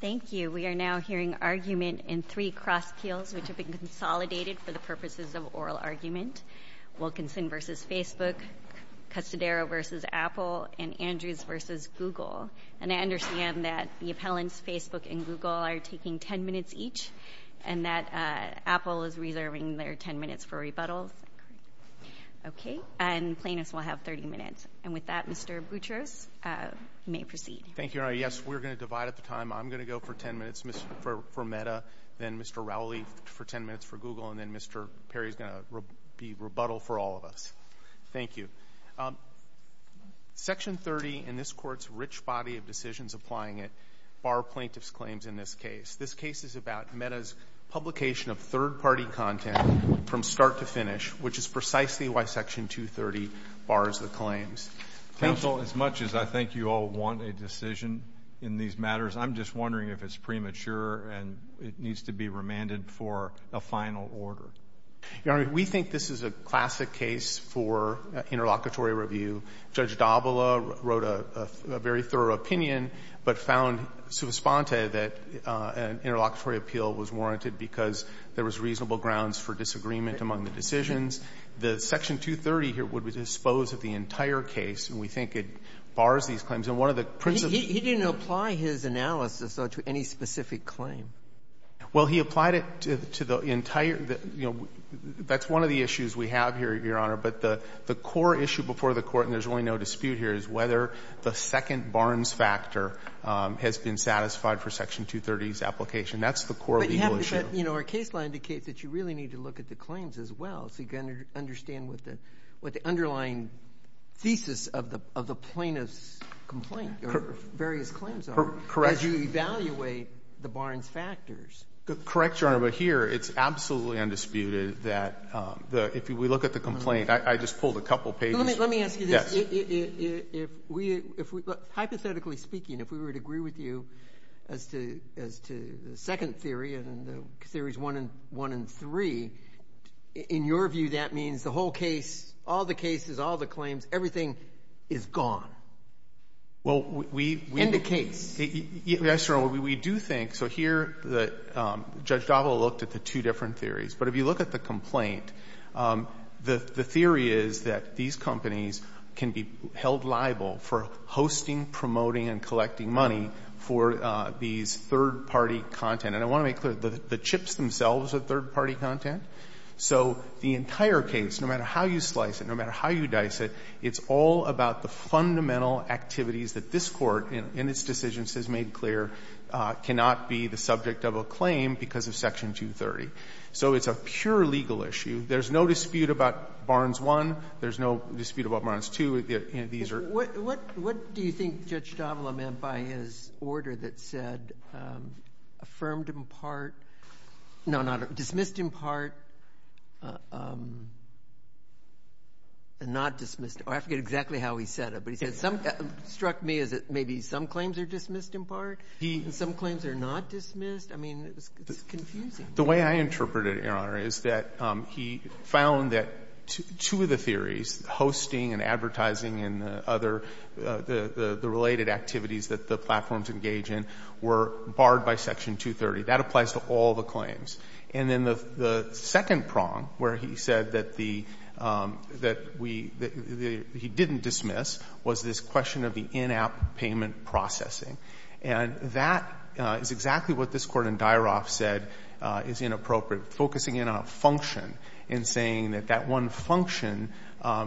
Thank you. We are now hearing argument in three cross-peels, which have been consolidated for the purposes of oral argument. Wilkinson v. Facebook, Custodero v. Apple, and Andrews v. Google. And I understand that the appellants, Facebook and Google, are taking 10 minutes each, and that Apple is reserving their 10 minutes for rebuttals. Okay. And Plaintiffs will have 30 minutes. And with that, Mr. Boutros may proceed. Thank you, Your Honor. Yes, we're going to divide up the time. I'm going to go for 10 minutes for Meta, then Mr. Rowley for 10 minutes for Google, and then Mr. Perry is going to be rebuttal for all of us. Thank you. Section 30 in this Court's rich body of decisions applying it bar plaintiffs' claims in this case. This case is about Meta's publication of third-party content from start to finish, which is precisely why Section 230 bars the claims. Counsel, as much as I think you all want a decision in these matters, I'm just wondering if it's premature and it needs to be remanded for a final order. Your Honor, we think this is a classic case for interlocutory review. Judge D'Avola wrote a very thorough opinion but found sui sponte that an interlocutory appeal was warranted because there was reasonable grounds for disagreement among the decisions. The Section 230 here would dispose of the entire case, and we think it bars these claims. And one of the principles of the Court's review is that there is no dispute here as to whether the second Barnes factor has been satisfied for Section 230's application. That's the core legal issue. But, you know, our case law indicates that you really need to look at the claims as well. So you've got to understand what the underlying thesis of the plaintiff's complaint or various claims are as you evaluate the Barnes factors. Correct, Your Honor, but here it's absolutely undisputed that if we look at the complaint, I just pulled a couple pages. Let me ask you this. Hypothetically speaking, if we were to agree with you as to the second theory and the theories one and three, in your view that means the whole case, all the cases, all the claims, everything is gone? Well, we've been the case. Yes, Your Honor. We do think. So here Judge Davila looked at the two different theories. But if you look at the complaint, the theory is that these companies can be held liable for hosting, promoting and collecting money for these third-party content. And I want to make clear, the chips themselves are third-party content. So the entire case, no matter how you slice it, no matter how you dice it, it's all about the fundamental activities that this Court in its decisions has made clear cannot be the subject of a claim because of Section 230. So it's a pure legal issue. There's no dispute about Barnes I. These are the two theories. What do you think Judge Davila meant by his order that said affirmed in part, no, dismissed in part and not dismissed? I forget exactly how he said it. But he said it struck me as maybe some claims are dismissed in part and some claims are not dismissed. I mean, it's confusing. The way I interpret it, Your Honor, is that he found that two of the theories, hosting and advertising and other, the related activities that the platforms engage in, were barred by Section 230. That applies to all the claims. And then the second prong where he said that the, that we, that he didn't dismiss was this question of the in-app payment processing. And that is exactly what this Court in Dyaroff said is inappropriate, focusing in on a function and saying that that one function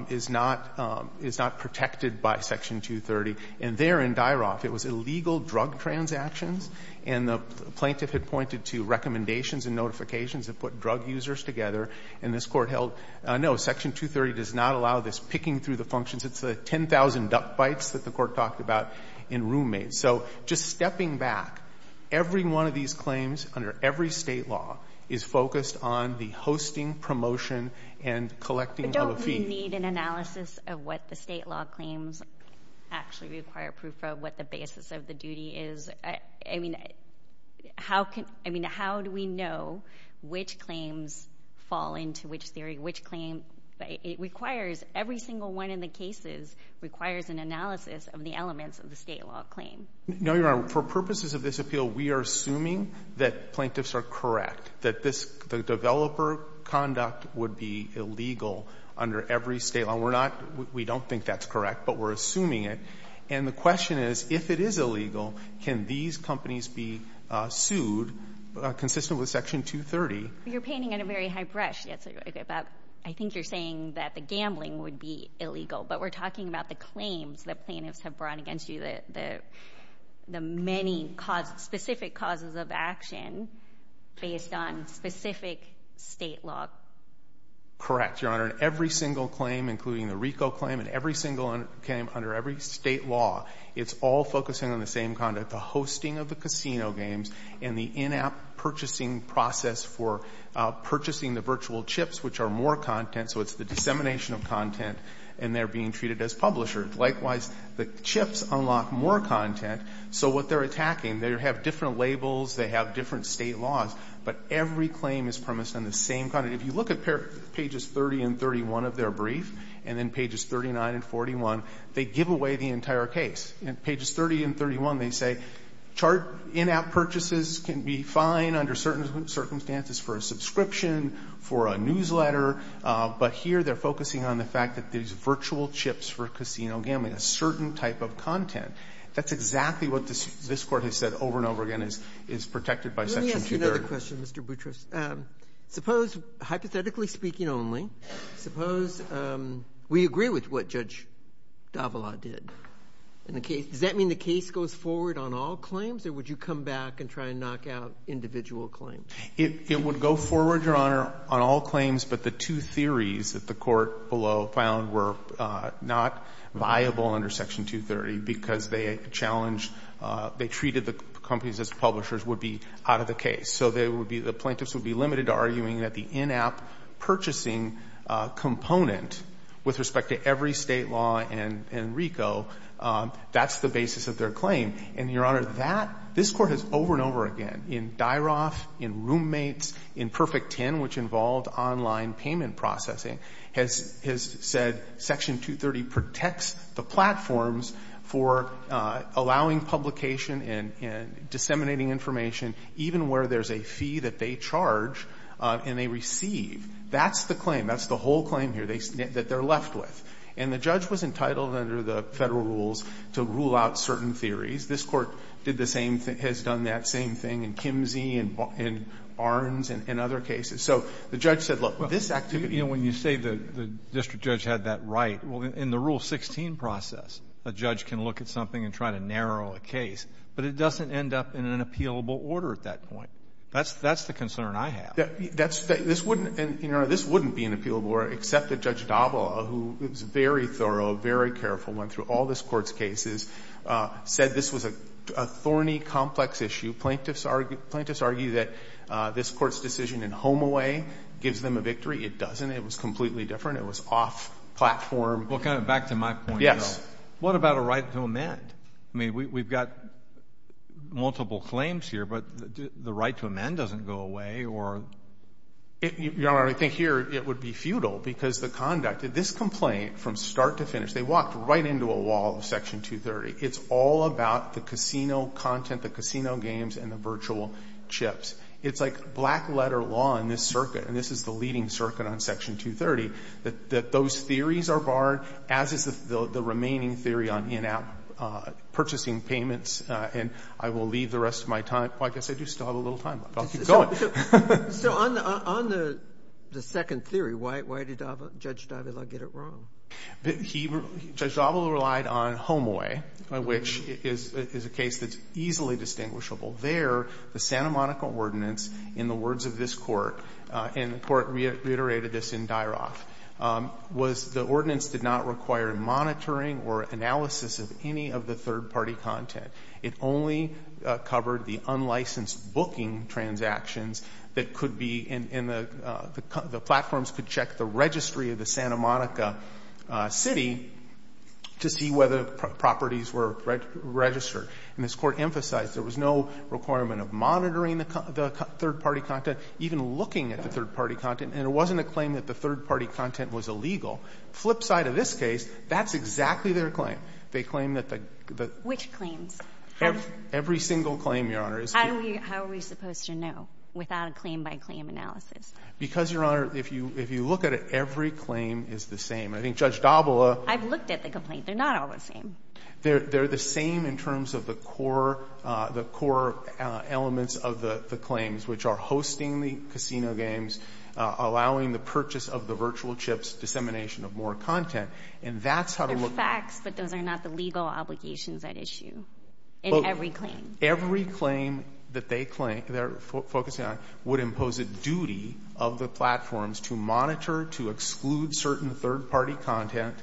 is not, is not protected by Section 230. And there in Dyaroff, it was illegal drug transactions. And the plaintiff had pointed to recommendations and notifications that put drug users together. And this Court held, no, Section 230 does not allow this picking through the functions. It's the 10,000 duck bites that the Court talked about in Roommates. So just stepping back, every one of these claims under every State law is focused on the hosting, promotion and collecting of a fee. But don't we need an analysis of what the State law claims actually require proof of, what the basis of the duty is? I mean, how can, I mean, how do we know which claims fall into which theory, which claim? It requires, every single one of the cases requires an analysis of the elements of the State law claim. No, Your Honor. For purposes of this appeal, we are assuming that plaintiffs are correct, that this developer conduct would be illegal under every State law. And we're not, we don't think that's correct, but we're assuming it. And the question is, if it is illegal, can these companies be sued consistent with Section 230? You're painting on a very high brush. I think you're saying that the gambling would be illegal. But we're talking about the claims that plaintiffs have brought against you, the many specific causes of action based on specific State law. Correct, Your Honor. Every single claim, including the RICO claim, and every single claim under every State law, it's all focusing on the same conduct. The hosting of the casino games and the in-app purchasing process for purchasing the virtual chips, which are more content. So it's the dissemination of content, and they're being treated as publishers. Likewise, the chips unlock more content. So what they're attacking, they have different labels, they have different State laws, but every claim is premised on the same content. If you look at pages 30 and 31 of their brief, and then pages 39 and 41, they give away the entire case. In pages 30 and 31, they say chart in-app purchases can be fine under certain circumstances for a subscription, for a newsletter. But here they're focusing on the fact that there's virtual chips for casino gambling, a certain type of content. That's exactly what this Court has said over and over again is protected by Section 230. Let me ask you another question, Mr. Boutrous. Suppose, hypothetically speaking only, suppose we agree with what Judge Davila did. Does that mean the case goes forward on all claims, or would you come back and try and knock out individual claims? It would go forward, Your Honor, on all claims, but the two theories that the Court below found were not viable under Section 230 because they challenged, they treated the companies as publishers would be out of the case. So they would be, the plaintiffs would be limited to arguing that the in-app purchasing component with respect to every State law and RICO, that's the basis of their claim. And, Your Honor, that, this Court has over and over again in Dyroff, in Roommates, in Perfect Ten, which involved online payment processing, has said Section 230 protects the platforms for allowing publication and disseminating information even where there's a fee that they charge and they receive. That's the claim. That's the whole claim here that they're left with. And the judge was entitled under the Federal rules to rule out certain theories. This Court did the same thing, has done that same thing in Kimsey and Barnes and other cases. So the judge said, look, with this activity. Breyer. You know, when you say the district judge had that right, well, in the Rule 16 process, a judge can look at something and try to narrow a case. But it doesn't end up in an appealable order at that point. That's the concern I have. That's, this wouldn't, Your Honor, this wouldn't be an appealable order except that Judge Dabala, who was very thorough, very careful, went through all this Court's cases, said this was a thorny, complex issue. Plaintiffs argue that this Court's decision in Homeaway gives them a victory. It doesn't. It was completely different. It was off-platform. Well, kind of back to my point, though. Yes. What about a right to amend? I mean, we've got multiple claims here, but the right to amend doesn't go away or You know, Your Honor, I think here it would be futile, because the conduct. This complaint, from start to finish, they walked right into a wall of Section 230. It's all about the casino content, the casino games, and the virtual chips. It's like black-letter law in this circuit, and this is the leading circuit on Section 230, that those theories are barred, as is the remaining theory on in-app purchasing payments, and I will leave the rest of my time. Well, I guess I do still have a little time left, but I'll keep going. So on the second theory, why did Judge Davila get it wrong? Judge Davila relied on Homeaway, which is a case that's easily distinguishable. There, the Santa Monica Ordinance, in the words of this Court, and the Court reiterated this in Dyroff, was the ordinance did not require monitoring or analysis of any of the third-party content. It only covered the unlicensed booking transactions that could be in the platforms could check the registry of the Santa Monica City to see whether properties were registered. And this Court emphasized there was no requirement of monitoring the third-party content, even looking at the third-party content, and it wasn't a claim that the third-party content was illegal. Flip side of this case, that's exactly their claim. They claim that the the Which claims? Every single claim, Your Honor. How are we supposed to know without a claim-by-claim analysis? Because, Your Honor, if you look at it, every claim is the same. I think Judge Davila I've looked at the complaint. They're not all the same. They're the same in terms of the core elements of the claims, which are hosting the casino games, allowing the purchase of the virtual chips, dissemination of more content. And that's how to look at it. But those are not the legal obligations at issue in every claim. Every claim that they claim, they're focusing on, would impose a duty of the platforms to monitor, to exclude certain third-party content,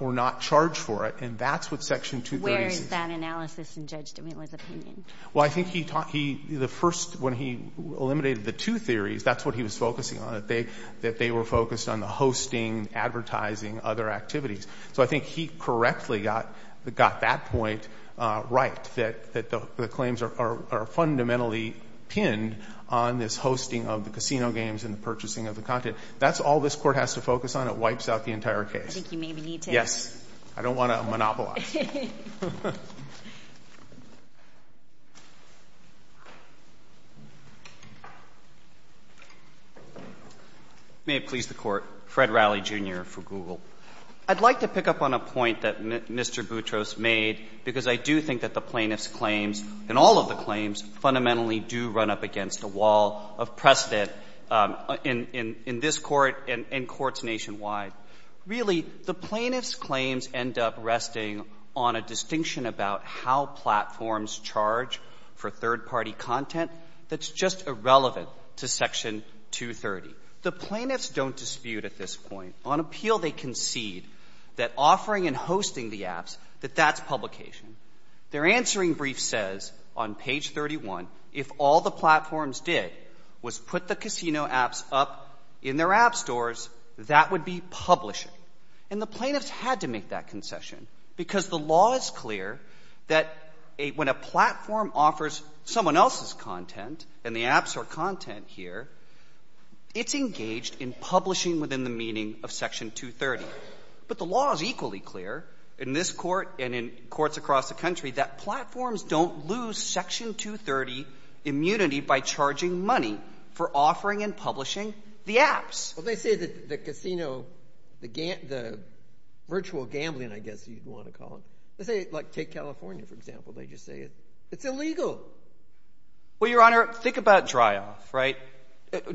or not charge for it. And that's what Section 230 says. Where is that analysis in Judge Davila's opinion? Well, I think he talked, he, the first, when he eliminated the two theories, that's what he was focusing on, that they were focused on the hosting, advertising, other activities. So I think he correctly got that point right, that the claims are fundamentally pinned on this hosting of the casino games and the purchasing of the content. That's all this Court has to focus on. It wipes out the entire case. I think you maybe need to ask. Yes. I don't want to monopolize. May it please the Court. Fred Riley, Jr. for Google. I'd like to pick up on a point that Mr. Boutros made, because I do think that the plaintiffs' claims, and all of the claims, fundamentally do run up against a wall of precedent in this Court and courts nationwide. Really, the plaintiffs' claims end up resting on a distinction about how platforms charge for third-party content that's just irrelevant to Section 230. The plaintiffs don't dispute at this point. On appeal, they concede that offering and hosting the apps, that that's publication. Their answering brief says on page 31, if all the platforms did was put the casino apps up in their app stores, that would be publishing. And the plaintiffs had to make that concession, because the law is clear that when a platform offers someone else's content, and the apps are content here, it's engaged in publishing within the meaning of Section 230. But the law is equally clear in this Court and in courts across the country that platforms don't lose Section 230 immunity by charging money for offering and publishing the apps. Well, they say that the casino, the virtual gambling, I guess you'd want to call it. They say, like, take California, for example. They just say it's illegal. Well, Your Honor, think about dry off, right?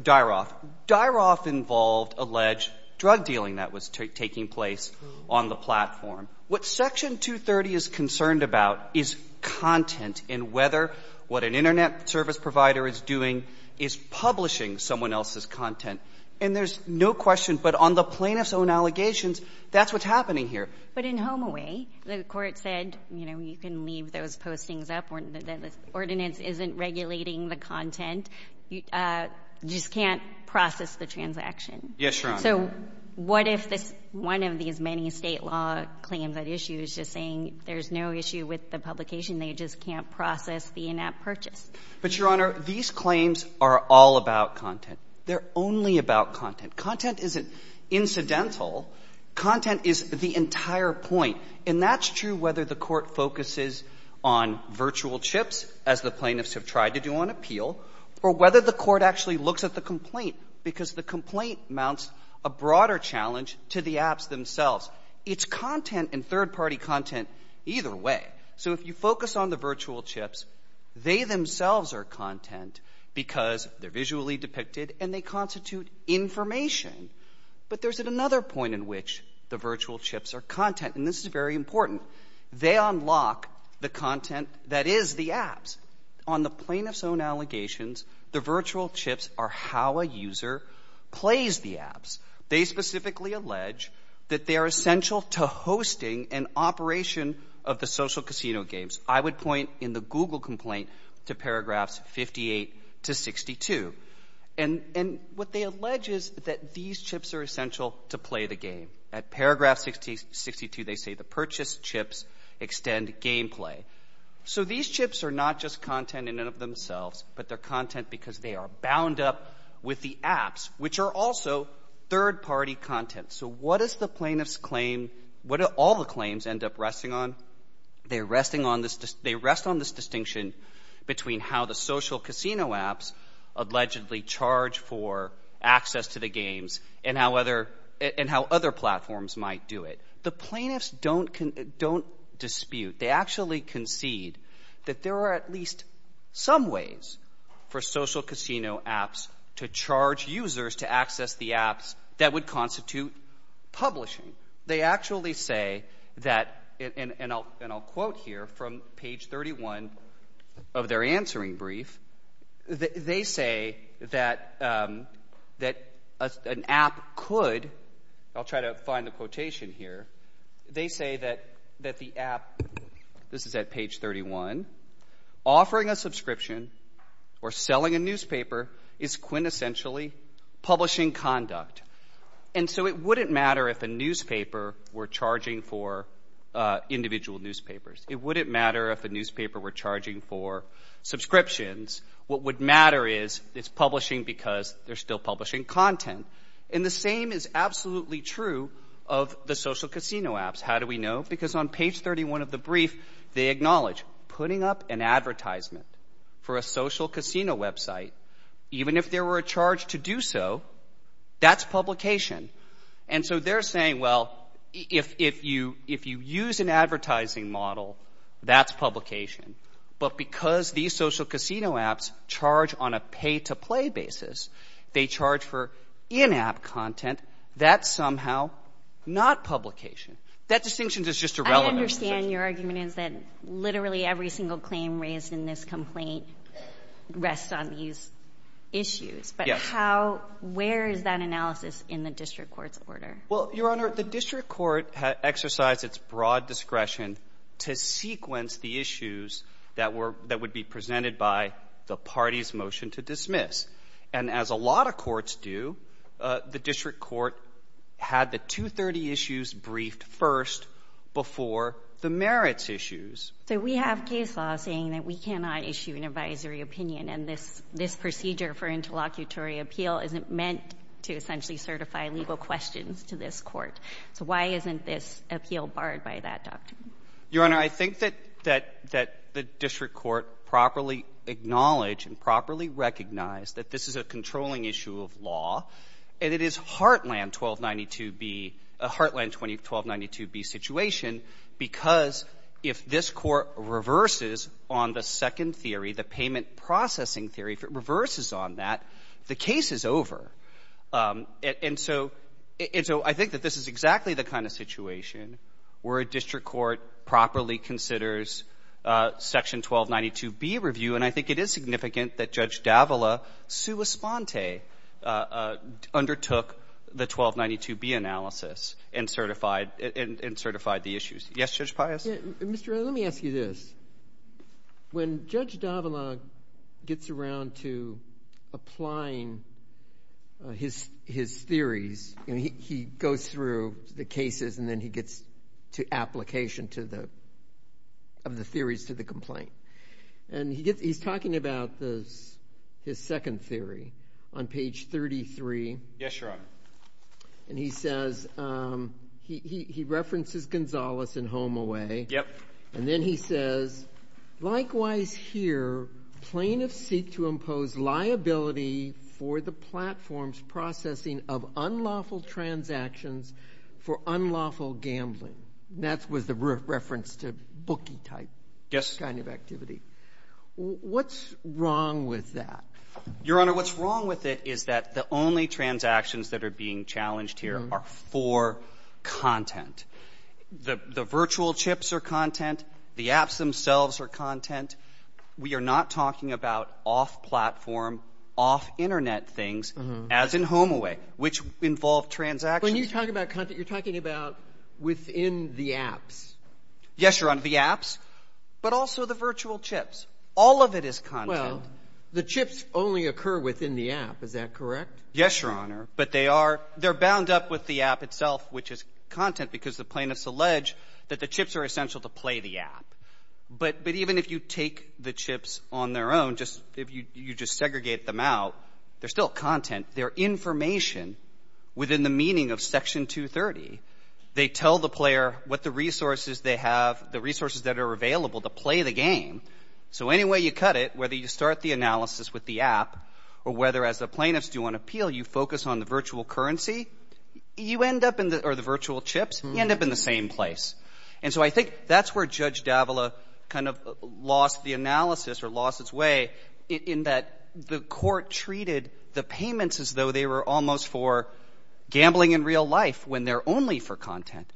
Dry off. Dry off involved alleged drug dealing that was taking place on the platform. What Section 230 is concerned about is content and whether what an Internet service provider is doing is publishing someone else's content. And there's no question, but on the plaintiff's own allegations, that's what's happening here. But in HomeAway, the Court said, you know, you can leave those postings up, or the ordinance isn't regulating the content. You just can't process the transaction. Yes, Your Honor. So what if this one of these many State law claims at issue is just saying there's no issue with the publication, they just can't process the in-app purchase? But, Your Honor, these claims are all about content. They're only about content. Content isn't incidental. Content is the entire point. And that's true whether the Court focuses on virtual chips, as the plaintiffs have tried to do on appeal, or whether the Court actually looks at the complaint, because the complaint mounts a broader challenge to the apps themselves. It's content and third-party content either way. So if you focus on the virtual chips, they themselves are content because they're visually depicted and they constitute information. But there's another point in which the virtual chips are content, and this is very important. They unlock the content that is the apps. On the plaintiff's own allegations, the virtual chips are how a user plays the apps. They specifically allege that they are essential to hosting and operation of the social casino games. I would point in the Google complaint to paragraphs 58 to 62. And what they allege is that these chips are essential to play the game. At paragraph 62, they say the purchased chips extend gameplay. So these chips are not just content in and of themselves, but they're content because they are bound up with the apps, which are also third-party content. So what does the plaintiff's claim, what do all the claims end up resting on? They rest on this distinction between how the social casino apps allegedly charge for access to the games and how other platforms might do it. The plaintiffs don't dispute. They actually concede that there are at least some ways for social casino apps to charge users to access the apps that would constitute publishing. They actually say that, and I'll quote here from page 31 of their answering brief, they say that an app could, I'll try to find the quotation here, they say that the app, this is at page 31, offering a subscription or selling a newspaper is quintessentially publishing conduct. And so it wouldn't matter if a newspaper were charging for individual newspapers. It wouldn't matter if a newspaper were charging for subscriptions. What would matter is it's publishing because they're still publishing content. And the same is absolutely true of the social casino apps. How do we know? Because on page 31 of the brief, they acknowledge putting up an advertisement for a social casino website, even if there were a charge to do so, that's publication. And so they're saying, well, if you use an advertising model, that's publication. But because these social casino apps charge on a pay-to-play basis, they charge for in-app content, that's somehow not publication. That distinction is just irrelevant. I understand your argument is that literally every single claim raised in this complaint rests on these issues. Yes. How — where is that analysis in the district court's order? Well, Your Honor, the district court exercised its broad discretion to sequence the issues that were — that would be presented by the party's motion to dismiss. And as a lot of courts do, the district court had the 230 issues briefed first before the merits issues. So we have case law saying that we cannot issue an advisory opinion, and this procedure for interlocutory appeal isn't meant to essentially certify legal questions to this Court. So why isn't this appeal barred by that doctrine? Your Honor, I think that — that the district court properly acknowledged and properly recognized that this is a controlling issue of law, and it is Heartland 1292B — Heartland 1292B situation, because if this Court reverses on the second theory, the payment processing theory, if it reverses on that, the case is over. And so — and so I think that this is exactly the kind of situation where a district court properly considers Section 1292B review, and I think it is significant that Judge Davila sua sponte undertook the 1292B analysis and certified — and certified the issues. Yes, Judge Pius. Mr. Wright, let me ask you this. When Judge Davila gets around to applying his theories, he goes through the cases, and then he gets to application to the — of the theories to the complaint. And he's talking about his second theory on page 33. Yes, Your Honor. And he says — he references Gonzales in Home Away. Yep. And then he says, likewise here, plaintiffs seek to impose liability for the platform's processing of unlawful transactions for unlawful gambling. That was the reference to bookie-type — Yes. — kind of activity. What's wrong with that? Your Honor, what's wrong with it is that the only transactions that are being challenged here are for content. The virtual chips are content. The apps themselves are content. We are not talking about off-platform, off-Internet things, as in Home Away, which involve transactions. When you talk about content, you're talking about within the apps. Yes, Your Honor. The apps, but also the virtual chips. All of it is content. Well, the chips only occur within the app. Is that correct? Yes, Your Honor. But they are — they're bound up with the app itself, which is content, because the plaintiffs allege that the chips are essential to play the app. But even if you take the chips on their own, just — if you just segregate them out, they're still content. They're information within the meaning of Section 230. They tell the player what the resources they have, the resources that are available to play the game. So any way you cut it, whether you start the analysis with the app or whether, as the plaintiffs do on appeal, you focus on the virtual currency, you end up in the — or the virtual chips, you end up in the same place. And so I think that's where Judge Davila kind of lost the analysis or lost its way in that the court treated the payments as though they were almost for gambling in real life when they're only for content.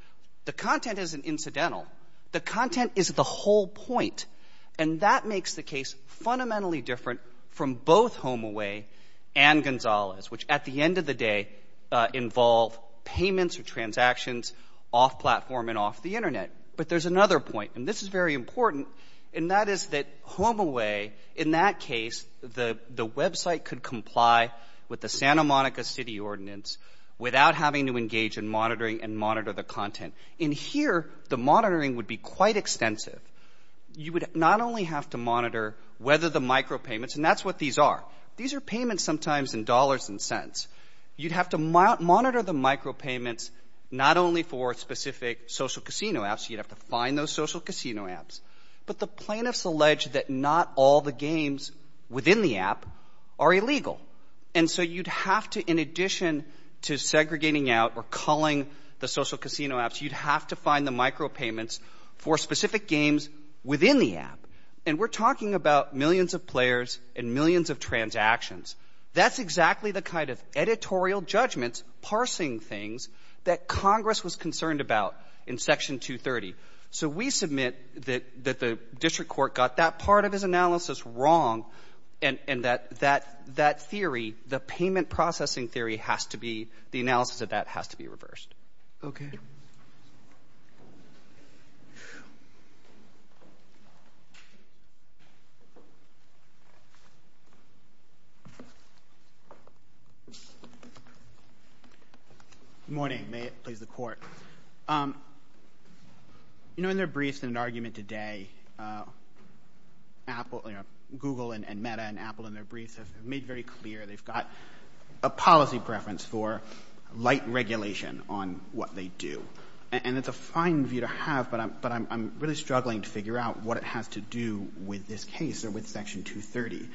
The content isn't incidental. The content is the whole point. And that makes the case fundamentally different from both HomeAway and Gonzalez, which at the end of the day involve payments or transactions off-platform and off the Internet. But there's another point, and this is very important, and that is that HomeAway, in that case, the website could comply with the Santa Monica City Ordinance without having to engage in monitoring and monitor the content. And here, the monitoring would be quite extensive. You would not only have to monitor whether the micropayments — and that's what these are. These are payments sometimes in dollars and cents. You'd have to monitor the micropayments not only for specific social casino apps. You'd have to find those social casino apps. But the plaintiffs allege that not all the games within the app are illegal. And so you'd have to, in addition to segregating out or culling the social casino apps, you'd have to find the micropayments for specific games within the app. And we're talking about millions of players and millions of transactions. That's exactly the kind of editorial judgments, parsing things, that Congress was concerned about in Section 230. So we submit that the district court got that part of his analysis wrong and that that theory, the payment processing theory has to be — the analysis of that has to be reversed. Okay. Good morning. May it please the Court. You know, in their briefs in an argument today, Apple — you know, Google and Meta and Apple in their briefs have made very clear they've got a policy preference for light regulation on what they do. And it's a fine view to have, but I'm really struggling to figure out what it has to do with this case or with Section 230.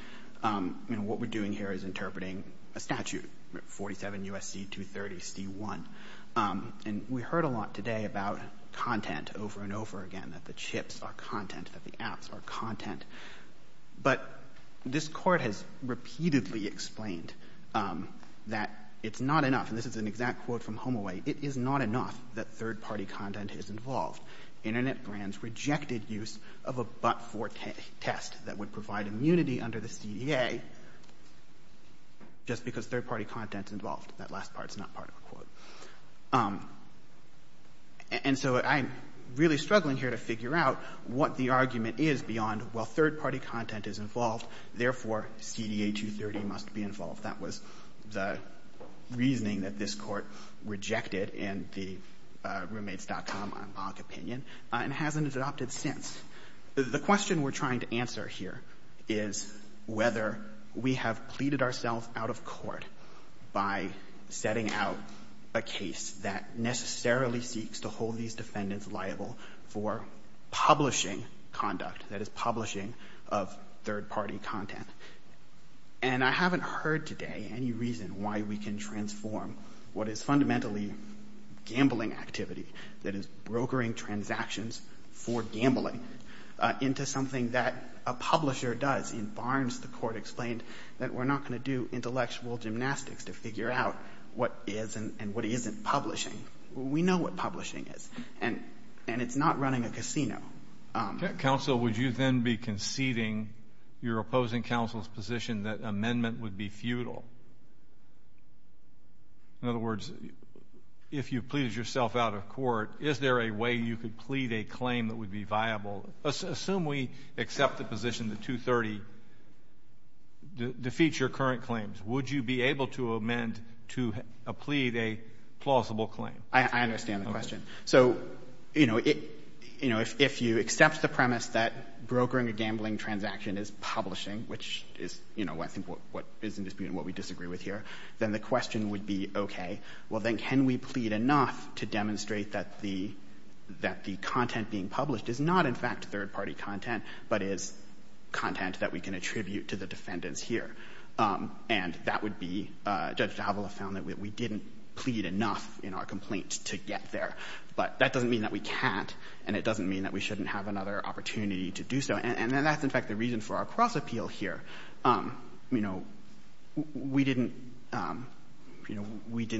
I mean, what we're doing here is interpreting a statute, 47 U.S.C. 230 C.1. And we heard a lot today about content over and over again, that the chips are content, that the apps are content. But this Court has repeatedly explained that it's not enough — and this is an exact quote from Homaway — it is not enough that third-party content is involved. Internet brands rejected use of a but-for test that would provide immunity under the CDA just because third-party content is involved. That last part is not part of the quote. And so I'm really struggling here to figure out what the argument is beyond, well, third-party content is involved. Therefore, CDA 230 must be involved. That was the reasoning that this Court rejected in the Roommates.com on block opinion and hasn't adopted since. The question we're trying to answer here is whether we have pleaded ourselves out of court by setting out a case that necessarily seeks to hold these defendants liable for publishing conduct, that is, publishing of third-party content. And I haven't heard today any reason why we can transform what is fundamentally gambling activity, that is, brokering transactions for gambling, into something that a publisher does. In Barnes, the Court explained that we're not going to do intellectual gymnastics to figure out what is and what isn't publishing. We know what publishing is, and it's not running a casino. Counsel, would you then be conceding your opposing counsel's position that amendment would be futile? In other words, if you pleaded yourself out of court, is there a way you could plead a claim that would be viable? Assume we accept the position that 230 defeats your current claims. Would you be able to amend to plead a plausible claim? I understand the question. Okay. So, you know, if you accept the premise that brokering a gambling transaction is publishing, which is, you know, I think what is in dispute and what we disagree with here, then the question would be, okay, well, then can we plead enough to demonstrate that the content being published is not, in fact, third-party content, but is content that we can attribute to the defendants here? And that would be Judge d'Avila found that we didn't plead enough in our complaint to get there. But that doesn't mean that we can't, and it doesn't mean that we shouldn't have another opportunity to do so. And that's, in fact, the reason for our cross-appeal here. You know, we didn't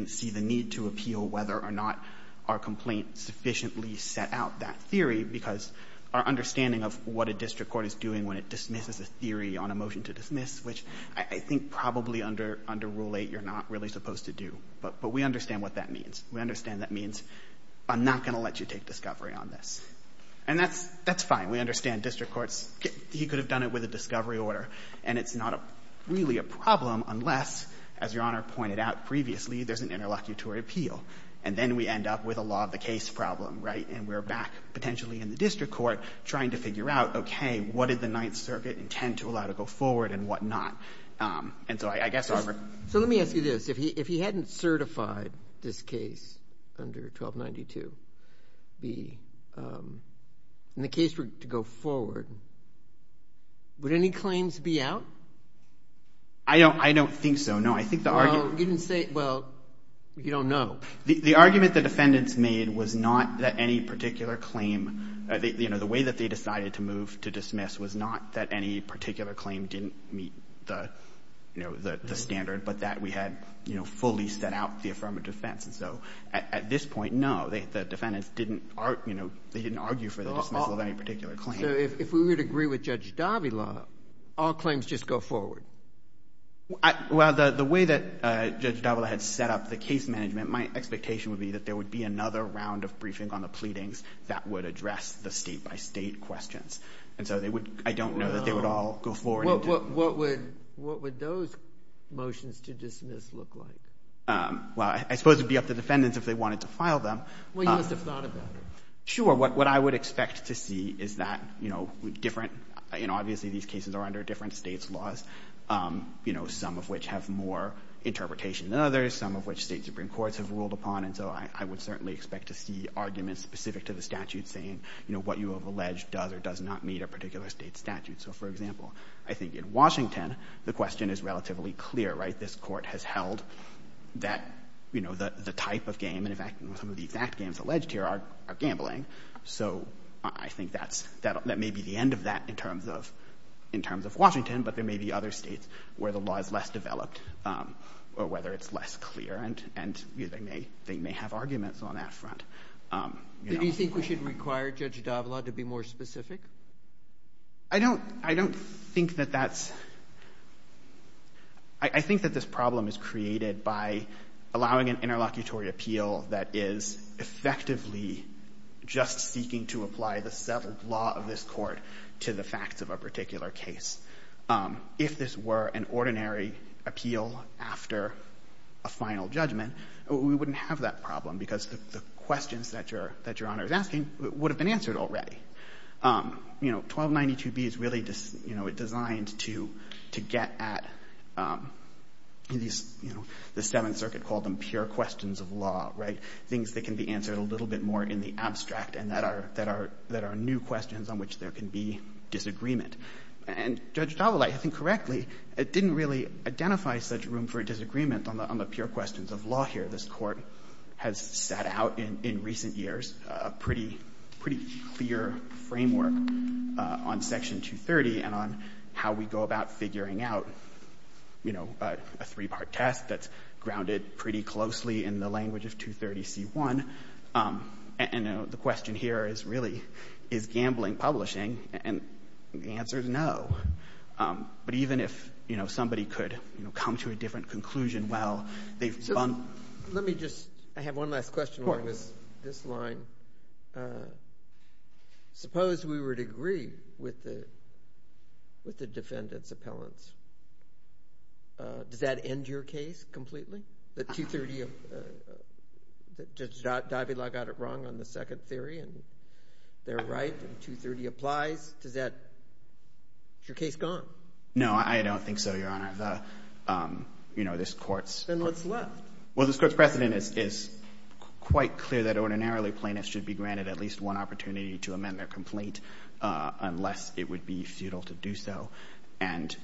see the need to appeal whether or not our complaint sufficiently set out that theory, because our understanding of what a district court is doing when it dismisses a theory on a motion to dismiss, which I think probably under Rule 8 you're not really supposed to do. But we understand what that means. We understand that means I'm not going to let you take discovery on this. And that's fine. We understand district courts, he could have done it with a discovery order, and it's not really a problem unless, as Your Honor pointed out previously, there's an interlocutory appeal. And then we end up with a law of the case problem, right? And we're back potentially in the district court trying to figure out, okay, what did the Ninth Circuit intend to allow to go forward and whatnot? And so I guess, however — So let me ask you this. If he hadn't certified this case under 1292B, and the case were to go forward, would any claims be out? I don't think so, no. I think the argument — Well, you didn't say — well, you don't know. The argument the defendants made was not that any particular claim — you know, the way that they decided to move to dismiss was not that any particular claim didn't meet the, you know, the standard, but that we had, you know, fully set out the affirmative defense. And so at this point, no, the defendants didn't argue for the dismissal of any particular claim. So if we would agree with Judge Davila, all claims just go forward? Well, the way that Judge Davila had set up the case management, my expectation would be that there would be another round of briefing on the pleadings that would address the state-by-state questions. And so they would — I don't know that they would all go forward. What would those motions to dismiss look like? Well, I suppose it would be up to defendants if they wanted to file them. Well, you must have thought about it. Sure. What I would expect to see is that, you know, different — you know, obviously these cases are under different States' laws, you know, some of which have more interpretation than others, some of which State supreme courts have ruled upon. And so I would certainly expect to see arguments specific to the statute saying, you know, what you have alleged does or does not meet a particular State statute. So, for example, I think in Washington, the question is relatively clear, right? This Court has held that, you know, the type of game and, in fact, some of the exact games alleged here are gambling. So I think that's — that may be the end of that in terms of — in terms of Washington, but there may be other States where the law is less developed or whether it's less clear, and they may — they may have arguments on that front. Do you think we should require Judge d'Avila to be more specific? I don't — I don't think that that's — I think that this problem is created by allowing an interlocutory appeal that is effectively just seeking to apply the settled law of this Court to the facts of a particular case. If this were an ordinary appeal after a final judgment, we wouldn't have that problem because the questions that Your Honor is asking would have been answered already. You know, 1292b is really designed to get at these, you know, the Seventh Circuit called them pure questions of law, right, things that can be answered a little bit more in the abstract and that are new questions on which there can be disagreement. And Judge d'Avila, if I think correctly, didn't really identify such room for disagreement on the pure questions of law here. This Court has set out in recent years a pretty — pretty clear framework on Section 230 and on how we go about figuring out, you know, a three-part test that's grounded pretty closely in the language of 230c1. And the question here is really, is gambling publishing? And the answer is no. But even if, you know, somebody could, you know, come to a different conclusion while they've done — Let me just — I have one last question along this line. Suppose we would agree with the defendant's appellants. Does that end your case completely? That 230 — that Judge d'Avila got it wrong on the second theory and they're right and 230 applies? Does that — is your case gone? No, I don't think so, Your Honor. The — you know, this Court's — Then what's left? Well, this Court's precedent is quite clear that ordinarily plaintiffs should be granted at least one opportunity to amend their complaint unless it would be futile to do so. And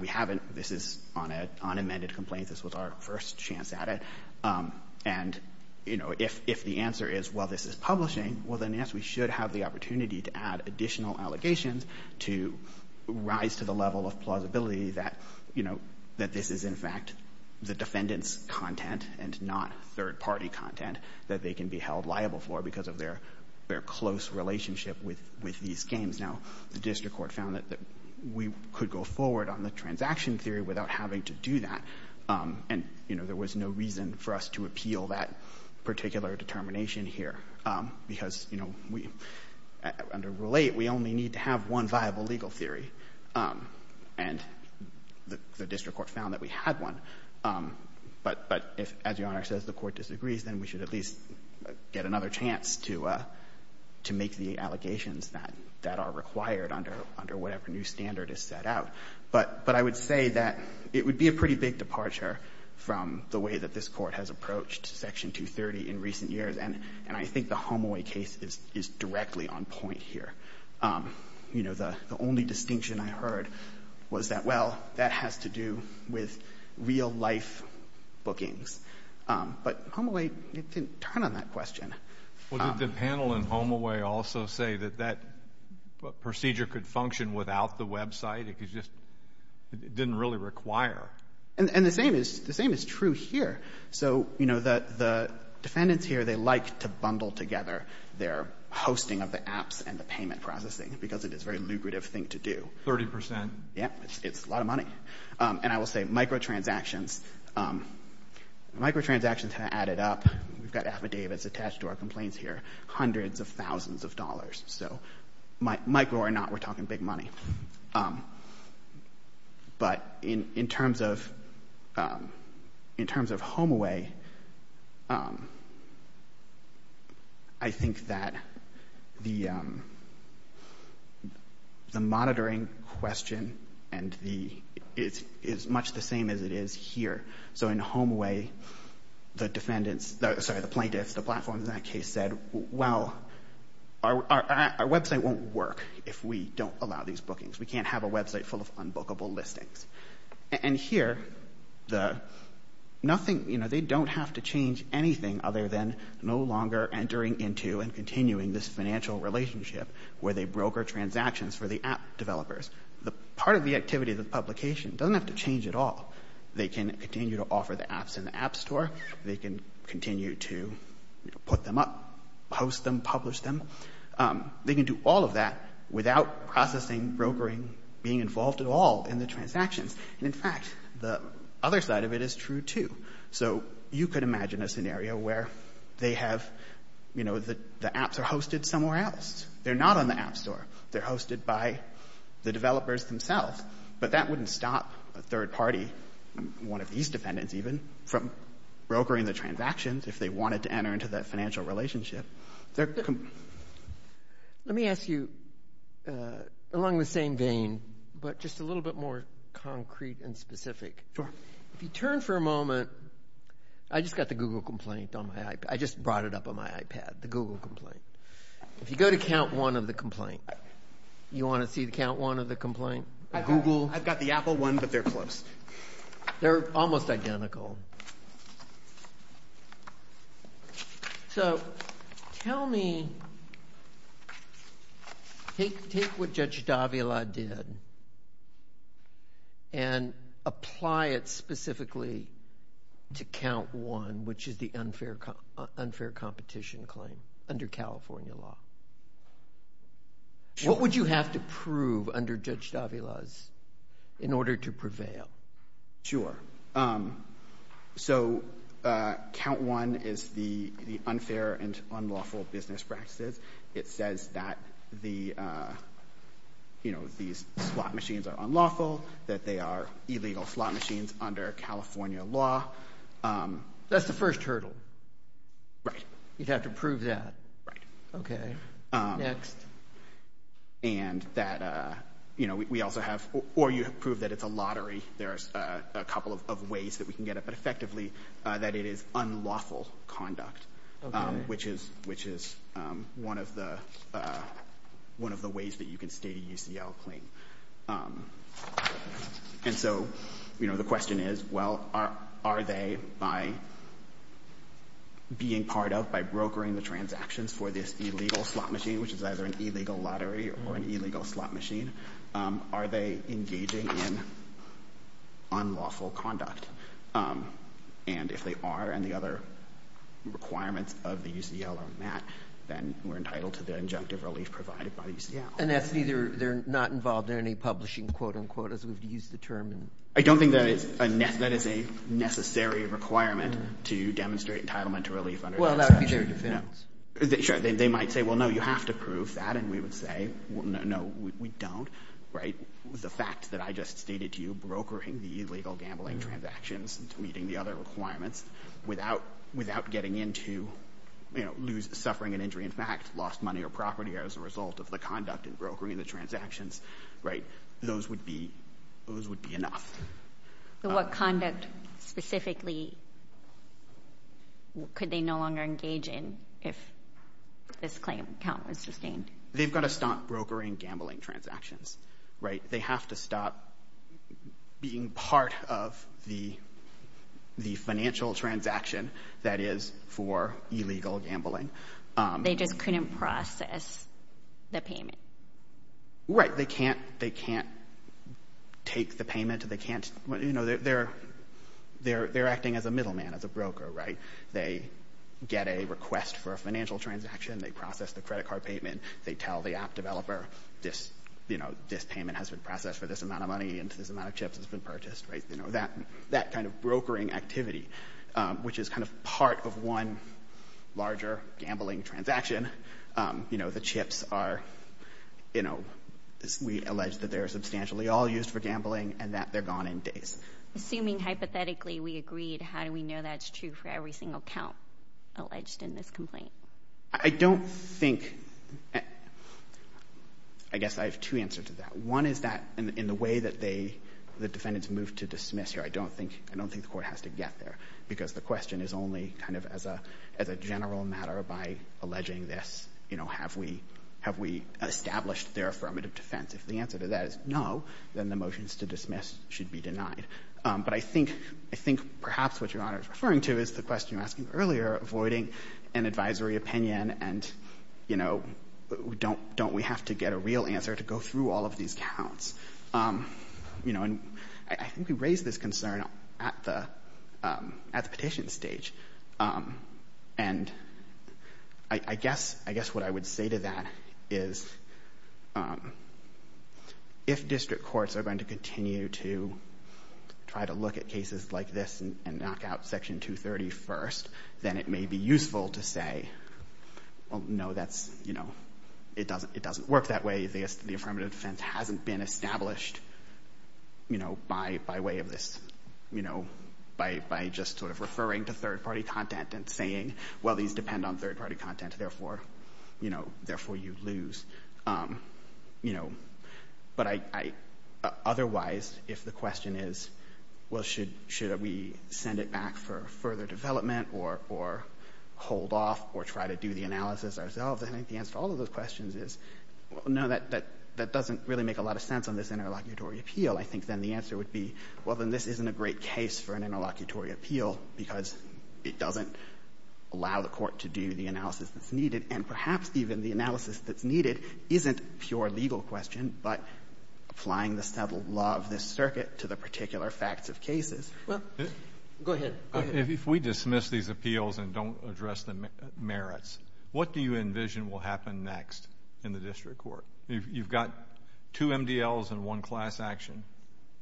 we haven't — this is on amended complaints. This was our first chance at it. And, you know, if the answer is, well, this is publishing, well, then yes, we should have the opportunity to add additional allegations to rise to the level of plausibility that, you know, that this is in fact the defendant's content and not third-party content that they can be held liable for because of their close relationship with these games. Now, the district court found that we could go forward on the transaction theory without having to do that. And, you know, there was no reason for us to appeal that particular determination here because, you know, we — under Rule 8, we only need to have one viable legal theory. And the district court found that we had one. But if, as Your Honor says, the Court disagrees, then we should at least get another chance to make the allegations that are required under whatever new standard is set out. But I would say that it would be a pretty big departure from the way that this Court has approached Section 230 in recent years. And I think the HomeAway case is directly on point here. You know, the only distinction I heard was that, well, that has to do with real-life bookings. But HomeAway didn't turn on that question. Well, did the panel in HomeAway also say that that procedure could function without the website? It just didn't really require. And the same is true here. So, you know, the defendants here, they like to bundle together their hosting of the apps and the payment processing because it is a very lucrative thing to do. Thirty percent. Yeah. It's a lot of money. And I will say microtransactions have added up — we've got affidavits attached to our complaints here — hundreds of thousands of dollars. So micro or not, we're talking big money. But in terms of HomeAway, I think that the monitoring question is much the same as it is here. So in HomeAway, the plaintiffs, the platform in that case, said, well, our website won't work if we don't allow these bookings. We can't have a website full of unbookable listings. And here, they don't have to change anything other than no longer entering into and continuing this financial relationship where they broker transactions for the app developers. Part of the activity of the publication doesn't have to change at all. They can continue to offer the apps in the app store. They can continue to put them up, post them, publish them. They can do all of that without processing, brokering, being involved at all in the transactions. And in fact, the other side of it is true, too. So you could imagine a scenario where they have — you know, the apps are hosted somewhere else. They're not on the app store. They're hosted by the developers themselves. But that wouldn't stop a third party, one of these defendants even, from brokering the transactions if they wanted to enter into that financial relationship. Let me ask you along the same vein, but just a little bit more concrete and specific. Sure. If you turn for a moment — I just got the Google complaint on my iPad. I just brought it up on my iPad, the Google complaint. If you go to count one of the complaint, you want to see the count one of the complaint? I've got the Apple one, but they're close. They're almost identical. So tell me — take what Judge Davila did and apply it specifically to count one, which is the unfair competition claim under California law. Sure. What would you have to prove under Judge Davila's in order to prevail? Sure. So count one is the unfair and unlawful business practices. It says that the, you know, these slot machines are unlawful, that they are illegal slot machines under California law. That's the first hurdle. Right. You'd have to prove that. Right. Okay. Next. And that, you know, we also have — or you prove that it's a lottery. There's a couple of ways that we can get it. But effectively, that it is unlawful conduct, which is one of the ways that you can state a UCL claim. And so, you know, the question is, well, are they, by being part of, by brokering the transactions for this illegal slot machine, which is either an illegal lottery or an illegal slot machine, are they engaging in unlawful conduct? And if they are, and the other requirements of the UCL are met, then we're entitled to the injunctive relief provided by the UCL. And that's neither — they're not involved in any publishing, quote unquote, as we've used the term in — I don't think that is a necessary requirement to demonstrate entitlement to relief under that statute. It's a statutory defense. Sure. They might say, well, no, you have to prove that. And we would say, well, no, we don't. Right? The fact that I just stated to you, brokering the illegal gambling transactions, meeting the other requirements, without getting into, you know, suffering an injury in fact, lost money or property as a result of the conduct in brokering the transactions, right, those would be enough. So what conduct specifically could they no longer engage in if this claim account was sustained? They've got to stop brokering gambling transactions, right? They have to stop being part of the financial transaction that is for illegal gambling. They just couldn't process the payment. Right. Or they can't take the payment. They can't — you know, they're acting as a middleman, as a broker, right? They get a request for a financial transaction. They process the credit card payment. They tell the app developer, you know, this payment has been processed for this amount of money and this amount of chips has been purchased. Right? You know, that kind of brokering activity, which is kind of part of one larger gambling transaction, you know, the chips are, you know, we allege that they're substantially all used for gambling and that they're gone in days. Assuming hypothetically we agreed, how do we know that's true for every single count alleged in this complaint? I don't think — I guess I have two answers to that. One is that in the way that they — the defendants moved to dismiss here, I don't think — I don't think the Court has to get there because the question is only kind of as a general matter by alleging this. You know, have we — have we established their affirmative defense? If the answer to that is no, then the motions to dismiss should be denied. But I think — I think perhaps what Your Honor is referring to is the question you were asking earlier, avoiding an advisory opinion and, you know, don't we have to get a real answer to go through all of these counts? You know, and I think we raised this concern at the — at the petition stage. And I guess — I guess what I would say to that is if district courts are going to continue to try to look at cases like this and knock out Section 230 first, then it may be useful to say, well, no, that's — you know, it doesn't — it doesn't have been established, you know, by way of this, you know, by just sort of referring to third-party content and saying, well, these depend on third-party content, therefore, you know, therefore you lose, you know. But I — otherwise, if the question is, well, should we send it back for further development or hold off or try to do the analysis ourselves, I think the answer to all of those questions is, well, no, that doesn't really make a lot of sense on this interlocutory appeal. I think then the answer would be, well, then this isn't a great case for an interlocutory appeal because it doesn't allow the court to do the analysis that's needed. And perhaps even the analysis that's needed isn't a pure legal question, but applying the settled law of this circuit to the particular facts of cases. Well, go ahead. Go ahead. If we dismiss these appeals and don't address the merits, what do you envision will happen next in the district court? You've got two MDLs and one class action,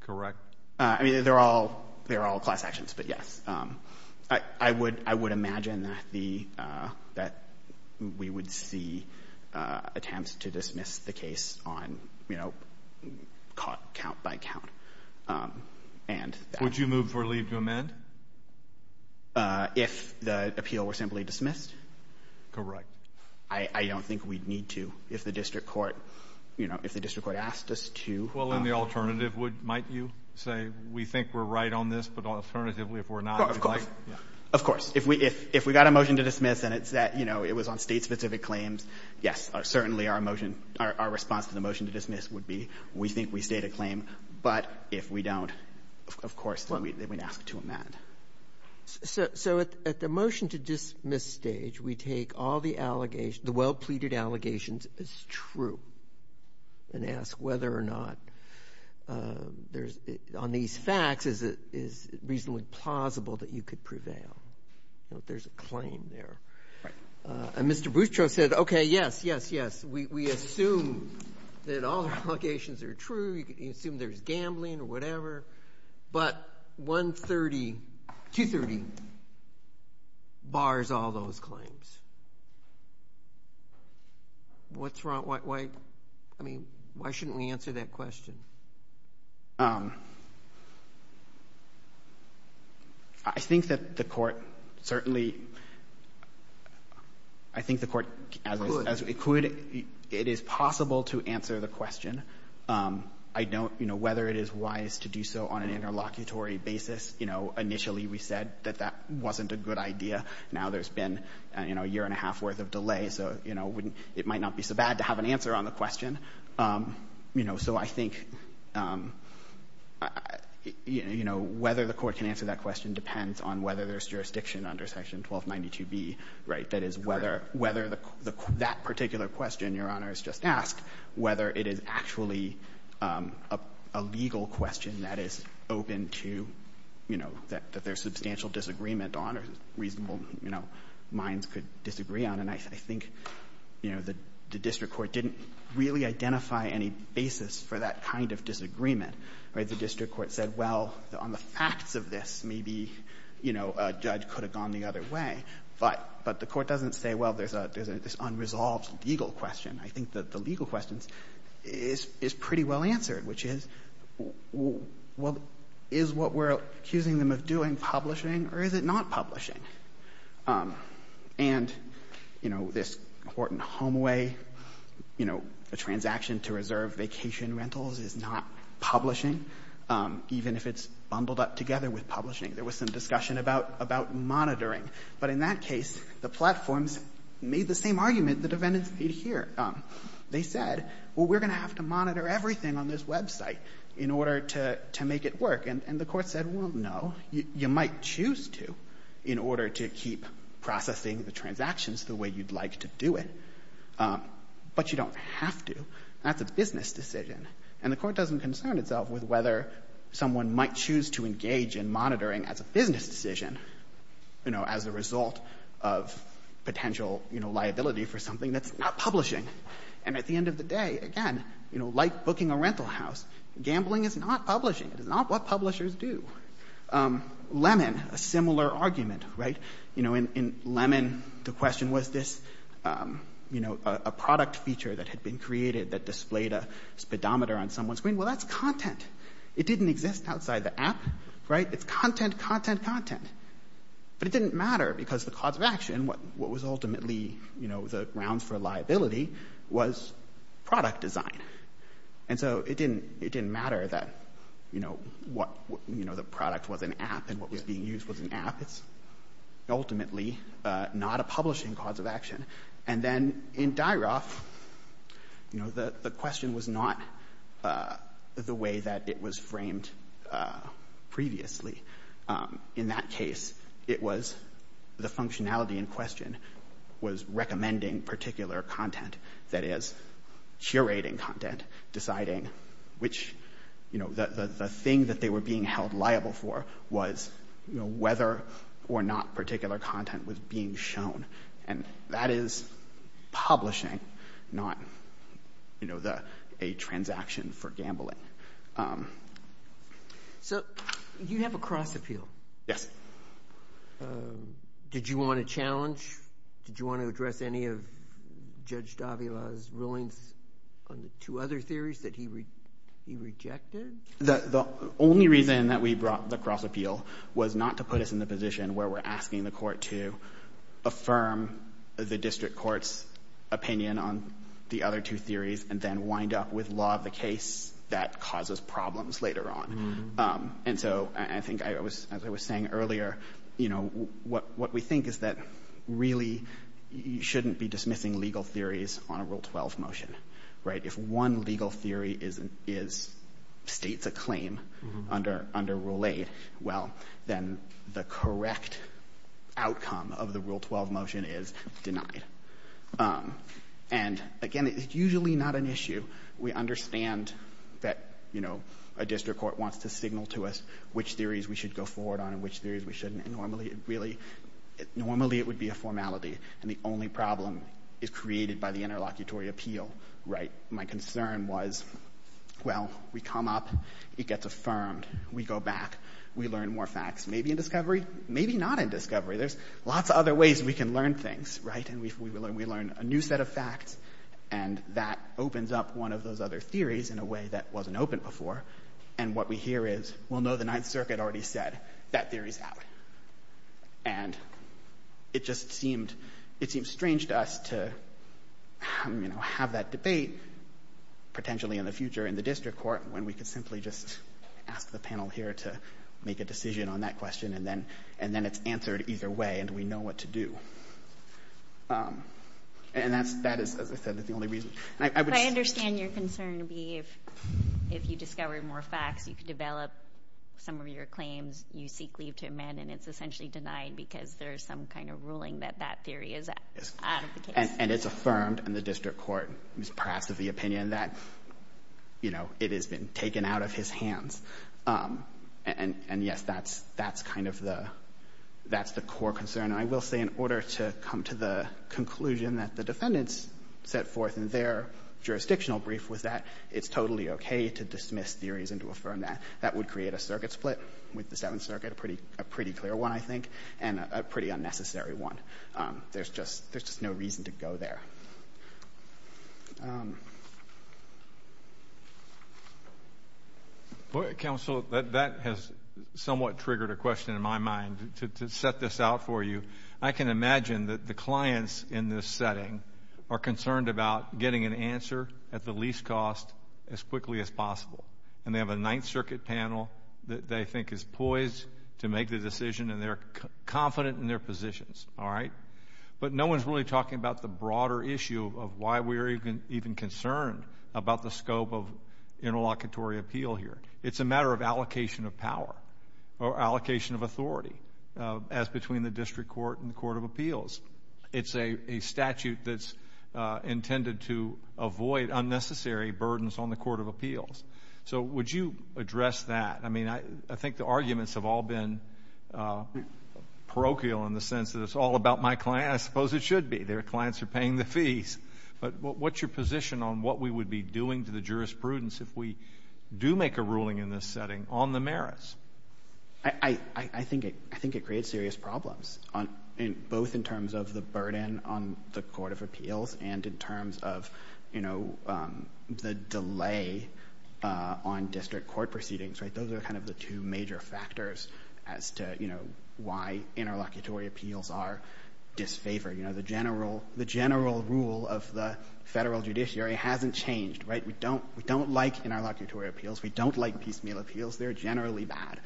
correct? I mean, they're all — they're all class actions, but yes. I would — I would imagine that the — that we would see attempts to dismiss the case on, you know, count by count. Would you move for leave to amend? If the appeal were simply dismissed? Correct. I don't think we'd need to if the district court — you know, if the district court asked us to. Well, then the alternative would — might you say, we think we're right on this, but alternatively, if we're not — Of course. Of course. If we got a motion to dismiss and it's that, you know, it was on state-specific claims, yes, certainly our motion — our response to the motion to dismiss would be, we think we state a claim, but if we don't, of course, then we'd ask to amend. So at the motion to dismiss stage, we take all the allegations — the well-pleaded allegations as true and ask whether or not there's — on these facts, is it reasonably plausible that you could prevail? You know, if there's a claim there. Right. And Mr. Boustro said, okay, yes, yes, yes. We assume that all the allegations are true. You assume there's gambling or whatever. But 130 — 230 bars all those claims. What's wrong? Why — I mean, why shouldn't we answer that question? I think that the Court certainly — I think the Court, as we could, it is possible to answer the question. I don't — you know, whether it is wise to do so on an interlocutory basis, you know, initially we said that that wasn't a good idea. Now there's been, you know, a year-and-a-half worth of delay, so, you know, it might not be so bad to have an answer on the question. You know, so I think, you know, whether the Court can answer that question depends on whether there's jurisdiction under Section 1292B, right? That is, whether — whether that particular question Your Honors just asked, whether it is actually a legal question that is open to, you know, that there's substantial disagreement on or reasonable, you know, minds could disagree on. And I think, you know, the district court didn't really identify any basis for that kind of disagreement, right? The district court said, well, on the facts of this, maybe, you know, a judge could have gone the other way. But the Court doesn't say, well, there's an unresolved legal question. I think that the legal question is pretty well answered, which is, well, is what we're accusing them of doing publishing, or is it not publishing? And, you know, this Horton Homeway, you know, a transaction to reserve vacation rentals is not publishing, even if it's bundled up together with publishing. There was some discussion about monitoring. But in that case, the platforms made the same argument the defendants made here. They said, well, we're going to have to monitor everything on this website in order to make it work. And the Court said, well, no, you might choose to in order to keep processing the transactions the way you'd like to do it. But you don't have to. That's a business decision. And the Court doesn't concern itself with whether someone might choose to engage in monitoring as a business decision, you know, as a result of potential, you know, liability for something that's not publishing. And at the end of the day, again, you know, like booking a rental house, gambling is not publishing. It is not what publishers do. Lemon, a similar argument, right? You know, in Lemon, the question was this, you know, a product feature that had been created that displayed a speedometer on someone's screen. Well, that's content. It didn't exist outside the app, right? It's content, content, content. But it didn't matter because the cause of action, what was ultimately, you know, the grounds for liability was product design. And so it didn't matter that, you know, what, you know, the product was an app and what was being used was an app. It's ultimately not a publishing cause of action. And then in Dairoff, you know, the question was not the way that it was framed previously. In that case, it was the functionality in question was recommending particular content, that is, curating content, deciding which, you know, the thing that they were being held liable for was, you know, whether or not particular content was being shown. And that is publishing, not, you know, a transaction for gambling. So you have a cross appeal. Yes. Did you want a challenge? Did you want to address any of Judge Davila's rulings on the two other theories that he rejected? The only reason that we brought the cross appeal was not to put us in the position where we're asking the court to affirm the district court's opinion on the other two theories and then wind up with law of the case that causes problems later on. And so I think, as I was saying earlier, you know, what we think is that really you shouldn't be dismissing legal theories on a Rule 12 motion, right? If one legal theory states a claim under Rule 8, well, then the correct outcome of the Rule 12 motion is denied. And, again, it's usually not an issue. We understand that, you know, a district court wants to signal to us which theories we should go forward on and which theories we shouldn't. Normally, it would be a formality. And the only problem is created by the interlocutory appeal, right? My concern was, well, we come up, it gets affirmed, we go back, we learn more facts. Maybe in discovery, maybe not in discovery. There's lots of other ways we can learn things, right? And we learn a new set of facts, and that opens up one of those other theories in a way that wasn't open before. And what we hear is, well, no, the Ninth Circuit already said that theory's out. And it just seemed — it seems strange to us to, you know, have that debate, potentially in the future in the district court, when we could simply just ask the panel here to make a decision on that question, and then it's answered either way and we know what to do. And that is, as I said, the only reason. If I understand your concern to be if you discover more facts, you could develop some of your claims, you seek leave to amend, and it's essentially denied because there's some kind of ruling that that theory is out of the case. And it's affirmed in the district court, perhaps of the opinion that, you know, it has been taken out of his hands. And yes, that's kind of the core concern. I will say, in order to come to the conclusion that the defendants set forth in their jurisdictional brief was that it's totally okay to dismiss theories and to affirm that. That would create a circuit split with the Seventh Circuit, a pretty clear one, I think, and a pretty unnecessary one. There's just no reason to go there. Counsel, that has somewhat triggered a question in my mind. To set this out for you, I can imagine that the clients in this setting are concerned about getting an answer at the least cost as quickly as possible. And they have a Ninth Circuit panel that they think is poised to make the decision and they're confident in their positions. But no one's really talking about the broader issue of why we're even concerned about the scope of interlocutory appeal here. It's a matter of allocation of power or allocation of authority, as between the district court and the court of appeals. It's a statute that's intended to avoid unnecessary burdens on the court of appeals. So would you address that? I mean, I think the arguments have all been parochial in the sense that it's all about my client. I suppose it should be. Their clients are paying the fees. But what's your position on what we would be doing to the jurisprudence if we do make a ruling in this setting on the merits? I think it creates serious problems, both in terms of the burden on the court of appeals and in terms of the delay on district court proceedings. Those are kind of the two major factors as to why interlocutory appeals are disfavored. The general rule of the federal judiciary hasn't changed. Right? We don't like interlocutory appeals. We don't like piecemeal appeals. They're generally bad.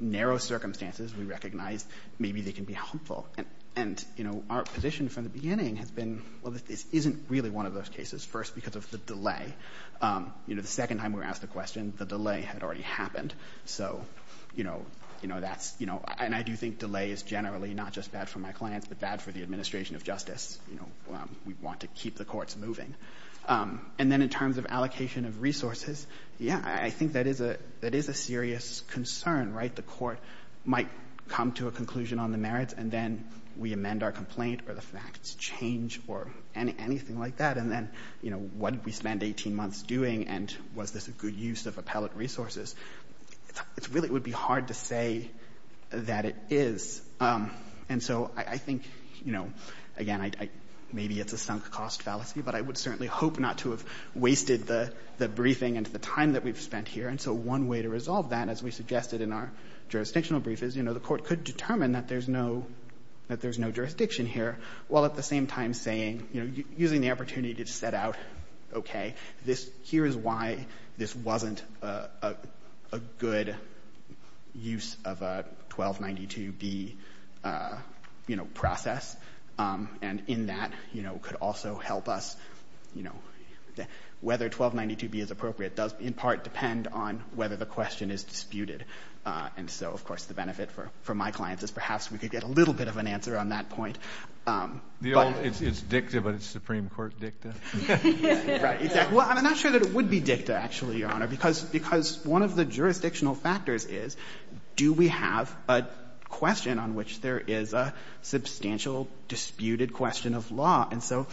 Narrow circumstances, we recognize, maybe they can be helpful. And, you know, our position from the beginning has been, well, this isn't really one of those cases. First, because of the delay. You know, the second time we were asked the question, the delay had already happened. So, you know, that's, you know, and I do think delay is generally not just bad for my clients, but bad for the administration of justice. You know, we want to keep the courts moving. And then in terms of allocation of resources, yeah, I think that is a serious concern, right? The court might come to a conclusion on the merits, and then we amend our complaint or the facts change or anything like that. And then, you know, what did we spend 18 months doing, and was this a good use of appellate resources? It really would be hard to say that it is. And so I think, you know, again, maybe it's a sunk cost fallacy, but I would certainly hope not to have wasted the briefing and the time that we've spent here. And so one way to resolve that, as we suggested in our jurisdictional brief, is, you know, the court could determine that there's no jurisdiction here, while at the same time saying, you know, using the opportunity to set out, okay, this, here is why this wasn't a good use of a 1292B, you know, process, and in that, you know, could also help us, you know. Whether 1292B is appropriate does, in part, depend on whether the question is disputed. And so, of course, the benefit for my clients is perhaps we could get a little bit of an answer on that point. The old, it's dicta, but it's Supreme Court dicta. Right, exactly. Well, I'm not sure that it would be dicta, actually, Your Honor, because one of the jurisdictional factors is, do we have a question on which there is a substantial disputed question of law? And so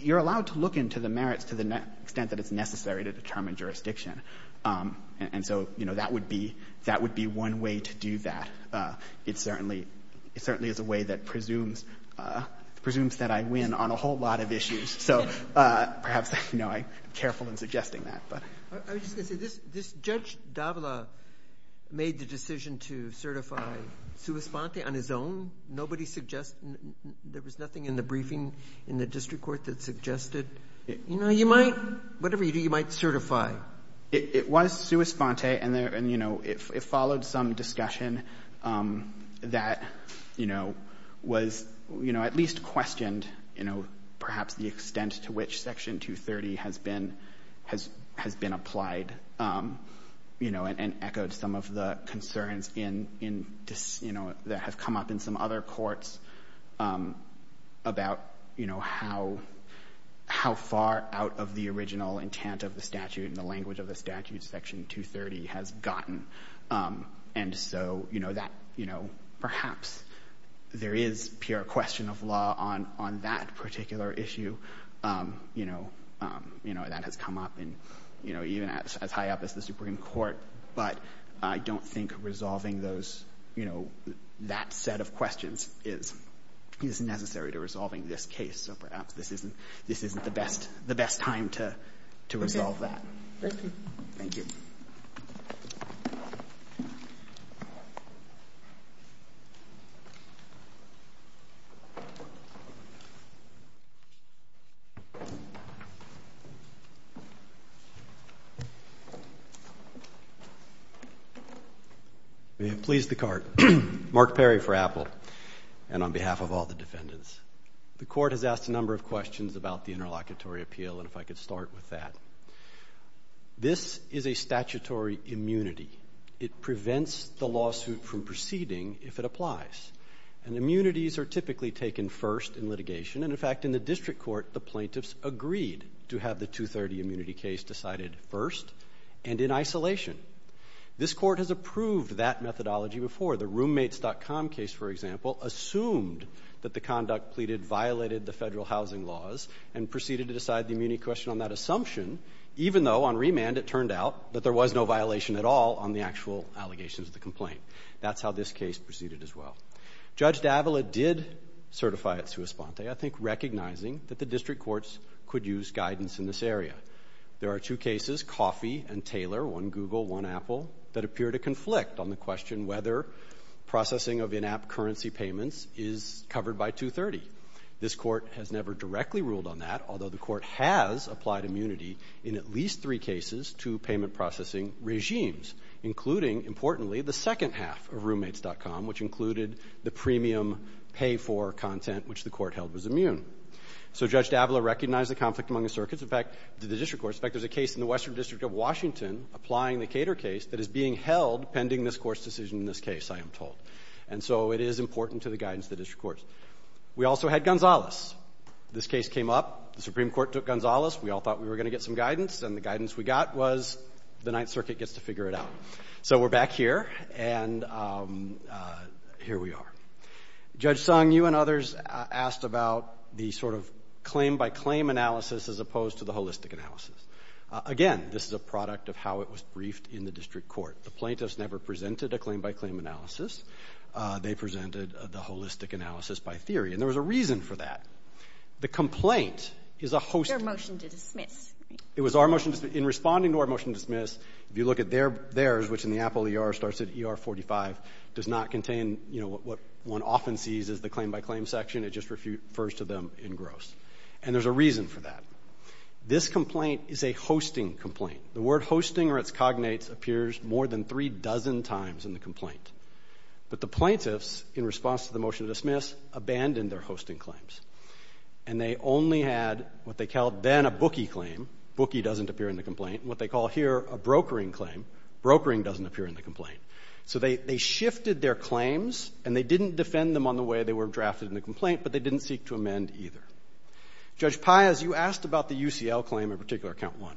you're allowed to look into the merits to the extent that it's necessary to determine jurisdiction. And so, you know, that would be one way to do that. It certainly is a way that presumes that I win on a whole lot of issues. So perhaps, you know, I'm careful in suggesting that, but. I was just going to say, this Judge Davila made the decision to certify sua sponte on his own. Nobody suggested, there was nothing in the briefing in the district court that suggested, you know, you might, whatever you do, you might certify. It was sua sponte, and, you know, it followed some discussion that, you know, was, you know, at least questioned, you know, perhaps the extent to which Section 230 has been applied, you know, and echoed some of the concerns in, you know, that have come up in some other courts about, you know, how far out of the original intent of the statute and the language of the statute Section 230 has gotten. And so, you know, that, you know, perhaps there is pure question of law on that particular issue, you know, that has come up in, you know, even as high up as the set of questions is necessary to resolving this case. So perhaps this isn't the best time to resolve that. Thank you. May it please the Court. Mark Perry for Apple, and on behalf of all the defendants. The Court has asked a number of questions about the interlocutory appeal, and if I could start with that. This is a statutory immunity. It prevents the lawsuit from proceeding if it applies. And immunities are typically taken first in litigation. And, in fact, in the District Court, the plaintiffs agreed to have the 230 immunity case decided first and in isolation. This Court has approved that methodology before. The roommates.com case, for example, assumed that the conduct pleaded violated the Even though, on remand, it turned out that there was no violation at all on the actual allegations of the complaint. That's how this case proceeded as well. Judge Davila did certify it sua sponte, I think recognizing that the District Courts could use guidance in this area. There are two cases, Coffey and Taylor, one Google, one Apple, that appear to conflict on the question whether processing of in-app currency payments is covered by 230. This Court has never directly ruled on that, although the Court has applied immunity in at least three cases to payment processing regimes, including, importantly, the second half of roommates.com, which included the premium pay-for content which the Court held was immune. So Judge Davila recognized the conflict among the circuits. In fact, the District Courts. In fact, there's a case in the Western District of Washington applying the Cater case that is being held pending this Court's decision in this case, I am told. And so it is important to the guidance of the District Courts. We also had Gonzalez. This case came up. The Supreme Court took Gonzalez. We all thought we were going to get some guidance. And the guidance we got was the Ninth Circuit gets to figure it out. So we're back here. And here we are. Judge Sung, you and others asked about the sort of claim-by-claim analysis as opposed to the holistic analysis. Again, this is a product of how it was briefed in the District Court. The plaintiffs never presented a claim-by-claim analysis. They presented the holistic analysis by theory. And there was a reason for that. The complaint is a host. It was your motion to dismiss. It was our motion to dismiss. In responding to our motion to dismiss, if you look at theirs, which in the Apple ER starts at ER 45, does not contain, you know, what one often sees as the claim-by-claim section. It just refers to them in gross. And there's a reason for that. This complaint is a hosting complaint. The word hosting or its cognates appears more than three dozen times in the complaint. But the plaintiffs, in response to the motion to dismiss, abandoned their hosting claims. And they only had what they called then a bookie claim. Bookie doesn't appear in the complaint. And what they call here a brokering claim. Brokering doesn't appear in the complaint. So they shifted their claims, and they didn't defend them on the way they were drafted in the complaint, but they didn't seek to amend either. Judge Paez, you asked about the UCL claim in particular, count one.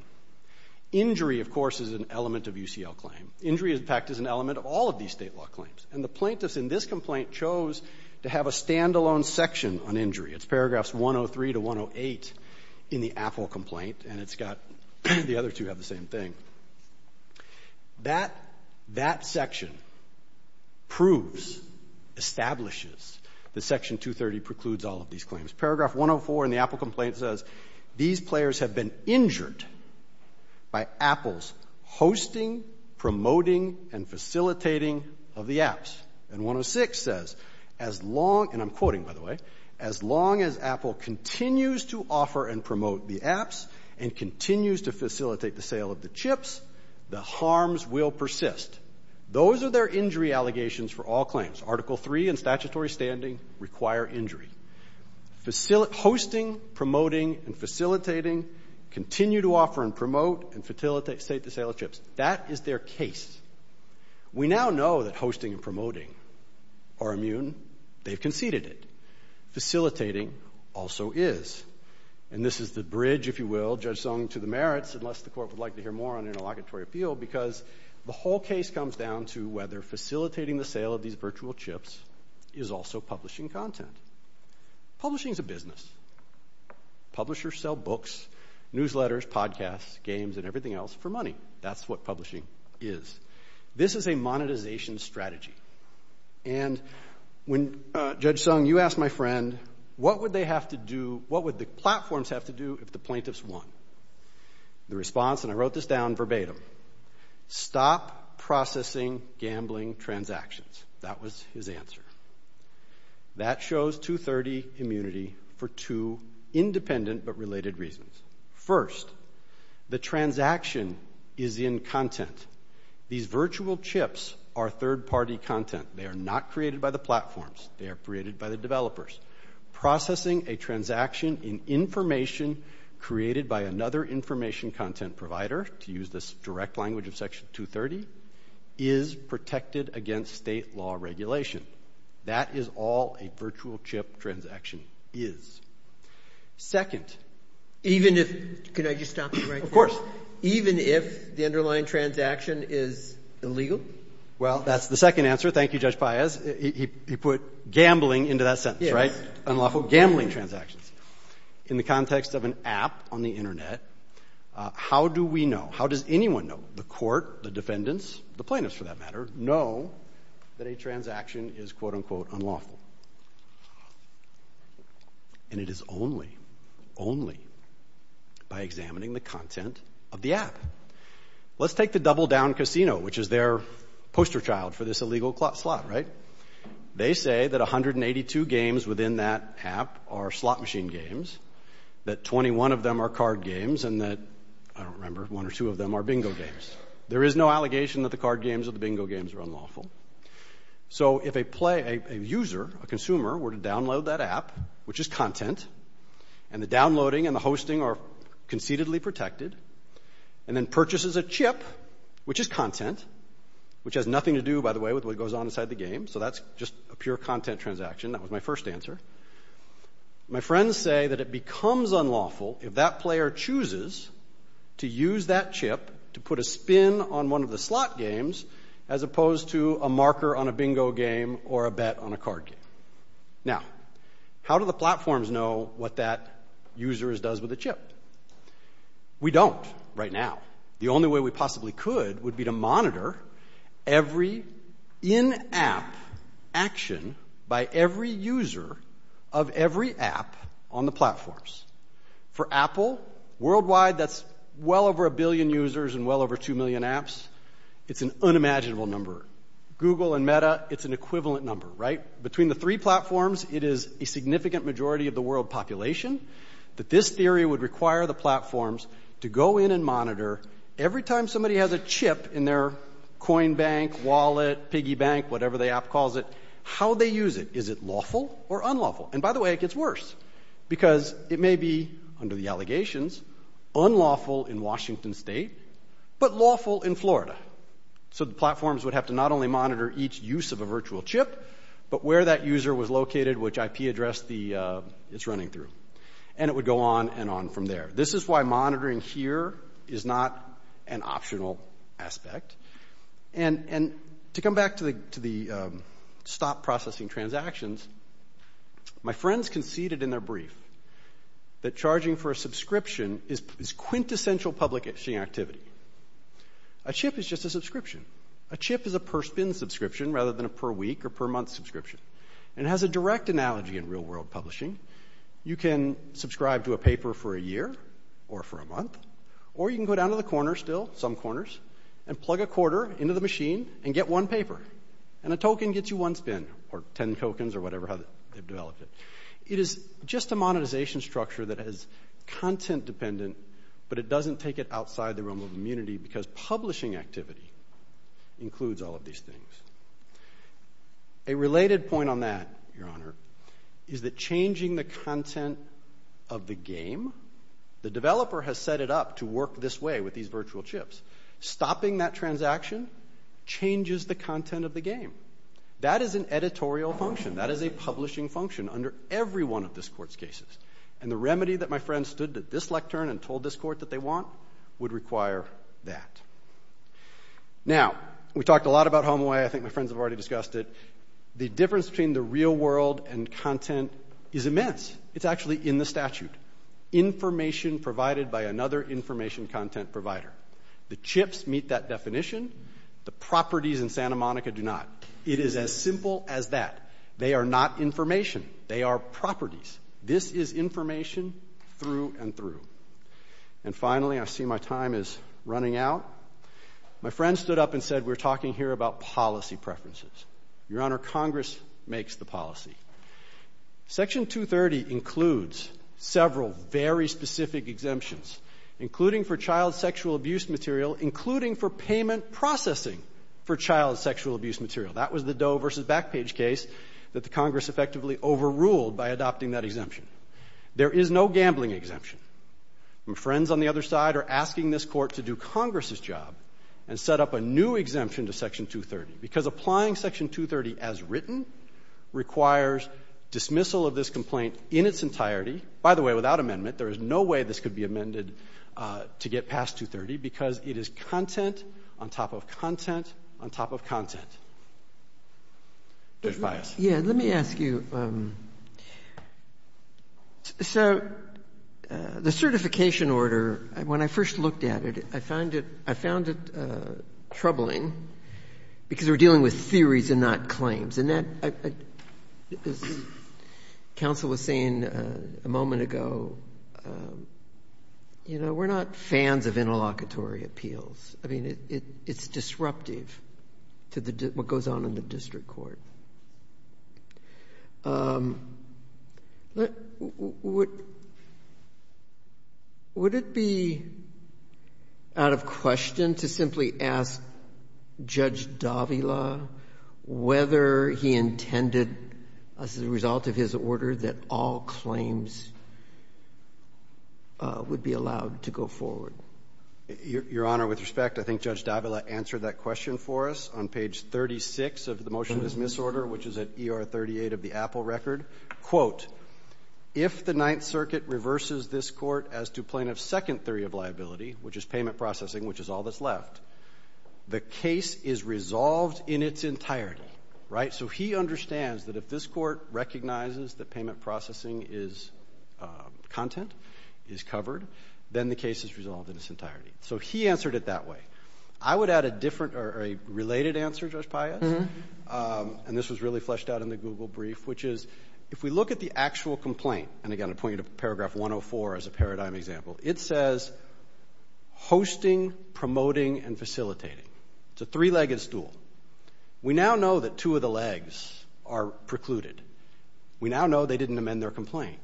Injury, of course, is an element of UCL claim. Injury, in fact, is an element of all of these state law claims. And the plaintiffs in this complaint chose to have a stand-alone section on injury. It's paragraphs 103 to 108 in the Apple complaint. And it's got the other two have the same thing. That section proves, establishes, that section 230 precludes all of these claims. Paragraph 104 in the Apple complaint says, these players have been injured by Apple's hosting, promoting, and facilitating of the apps. And 106 says, as long, and I'm quoting, by the way, as long as Apple continues to offer and promote the apps and continues to facilitate the sale of the chips, the harms will persist. Those are their injury allegations for all claims. Article III and statutory standing require injury. Hosting, promoting, and facilitating continue to offer and promote and facilitate the sale of chips. That is their case. We now know that hosting and promoting are immune. They've conceded it. Facilitating also is. And this is the bridge, if you will, Judge Sung, to the merits, unless the court would like to hear more on interlocutory appeal, because the whole case comes down to whether facilitating the sale of these virtual chips is also publishing content. Publishing is a business. Publishers sell books, newsletters, podcasts, games, and everything else for money. That's what publishing is. This is a monetization strategy. And Judge Sung, you asked my friend, what would the platforms have to do if the plaintiffs won? The response, and I wrote this down verbatim, stop processing gambling transactions. That was his answer. That shows 230 immunity for two independent but related reasons. First, the transaction is in content. Second, these virtual chips are third-party content. They are not created by the platforms. They are created by the developers. Processing a transaction in information created by another information content provider, to use this direct language of Section 230, is protected against state law regulation. That is all a virtual chip transaction is. Second, even if the underlying transaction is in content, the transaction is illegal? Well, that's the second answer. Thank you, Judge Paez. He put gambling into that sentence, right? Unlawful gambling transactions. In the context of an app on the Internet, how do we know? How does anyone know? The court, the defendants, the plaintiffs for that matter, know that a transaction is quote, unquote, unlawful. And it is only, only by examining the content of the app. Let's take the Double Down Casino, which is their poster child for this illegal slot, right? They say that 182 games within that app are slot machine games, that 21 of them are card games, and that, I don't remember, one or two of them are bingo games. There is no allegation that the card games or the bingo games are unlawful. So if a player, a user, a consumer were to download that app, which is content, and the downloading and the hosting are conceitedly protected, and then purchases a chip, which is content, which has nothing to do, by the way, with what goes on inside the game, so that's just a pure content transaction. That was my first answer. My friends say that it becomes unlawful if that player chooses to use that chip to put a spin on one of the slot games as opposed to a marker on a bingo game or a bet on a card game. Now, how do the platforms know what that user does with a chip? We don't right now. The only way we possibly could would be to monitor every in-app action by every user of every app on the platforms. For Apple, worldwide, that's well over a billion users and well over two million apps. It's an unimaginable number. Google and Meta, it's an equivalent number, right? Between the three platforms, it is a significant majority of the world population that this theory would require the platforms to go in and monitor every time somebody has a chip in their coin bank, wallet, piggy bank, whatever the app calls it, how they use it. Is it lawful or unlawful? And by the way, it gets worse because it may be, under the allegations, unlawful in Washington state but lawful in Florida. So the platforms would have to not only monitor each use of a virtual chip but where that user was located, which IP address it's running through. And it would go on and on from there. This is why monitoring here is not an optional aspect. And to come back to the stop processing transactions, my friends conceded in their brief that charging for a subscription is quintessential public activity. A chip is just a subscription. A chip is a per-spin subscription rather than a per-week or per-month subscription. And it has a direct analogy in real-world publishing. You can subscribe to a paper for a year or for a month or you can go down to the corner still, some corners, and plug a quarter into the machine and get one paper. And a token gets you one spin or ten tokens or whatever they've developed it. It is just a monetization structure that is content-dependent but it doesn't take it outside the realm of immunity because publishing activity includes all of these things. A related point on that, Your Honor, is that changing the content of the game, the developer has set it up to work this way with these virtual chips. Stopping that transaction changes the content of the game. That is an editorial function. That is a publishing function under every one of this court's cases. And the remedy that my friends stood at this lectern and told this court that they want would require that. Now, we talked a lot about HomeAway. I think my friends have already discussed it. The difference between the real world and content is immense. It's actually in the statute. Information provided by another information content provider. The chips meet that definition. The properties in Santa Monica do not. It is as simple as that. They are not information. They are properties. This is information through and through. And finally, I see my time is running out. My friends stood up and said we're talking here about policy preferences. Your Honor, Congress makes the policy. Section 230 includes several very specific exemptions, including for child sexual abuse material, including for payment processing for child sexual abuse material. That was the Doe v. Backpage case that the Congress effectively overruled by adopting that exemption. There is no gambling exemption. My friends on the other side are asking this court to do Congress's job and set up a new exemption to Section 230 because applying Section 230 as written requires dismissal of this complaint in its entirety. By the way, without amendment, there is no way this could be amended to get past 230 because it is content on top of content on top of content. Judge Bias. Yeah, let me ask you. So the certification order, when I first looked at it, I found it troubling because we're dealing with theories and not claims. And that, as counsel was saying a moment ago, you know, we're not fans of interlocutory appeals. I mean, it's disruptive to what goes on in the district court. Would it be out of question to simply ask Judge Davila whether he intended as a result of his order that all claims would be allowed to go forward? Your Honor, with respect, I think Judge Davila answered that question for us on page 36 of the motion of this misorder, which is at ER 38 of the Apple record. Quote, if the Ninth Circuit reverses this court as to plaintiff's second theory of liability, which is payment processing, which is all that's left, the case is resolved in its entirety. Right? So he understands that if this court recognizes that payment processing is content, is covered, then the case is resolved in its entirety. So he answered it that way. I would add a different or a related answer, Judge Pius, and this was really fleshed out in the Google brief, which is if we look at the actual complaint, and again I point you to paragraph 104 as a paradigm example, it says hosting, promoting, and facilitating. It's a three-legged stool. We now know that two of the legs are precluded. We now know they didn't amend their complaint.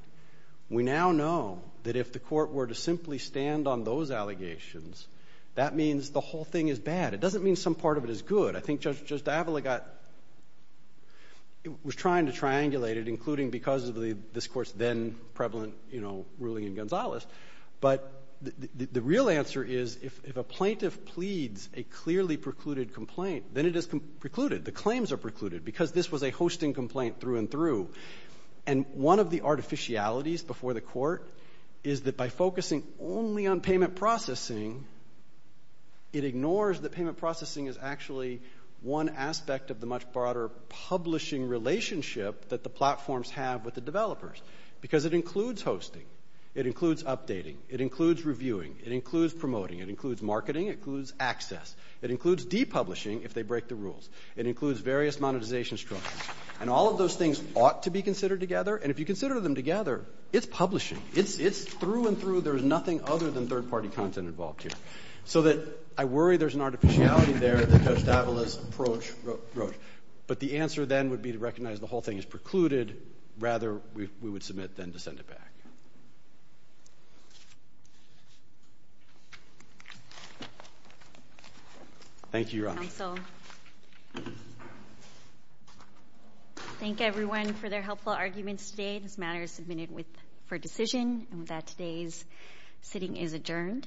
We now know that if the court were to simply stand on those allegations, that means the whole thing is bad. It doesn't mean some part of it is good. I think Judge Diavola got ñ was trying to triangulate it, including because of this court's then prevalent, you know, ruling in Gonzales. But the real answer is if a plaintiff pleads a clearly precluded complaint, then it is precluded. The claims are precluded because this was a hosting complaint through and through. And one of the artificialities before the court is that by focusing only on payment processing, it ignores that payment processing is actually one aspect of the much broader publishing relationship that the platforms have with the developers because it includes hosting. It includes updating. It includes reviewing. It includes promoting. It includes marketing. It includes access. It includes depublishing if they break the rules. It includes various monetization structures. And all of those things ought to be considered together. And if you consider them together, it's publishing. It's through and through. There is nothing other than third-party content involved here. So that I worry there's an artificiality there that Judge Diavola's approach wrote. But the answer then would be to recognize the whole thing is precluded. Rather, we would submit then to send it back. Thank you, Your Honor. Thank you, Counsel. Thank everyone for their helpful arguments today. This matter is submitted for decision. And with that, today's sitting is adjourned.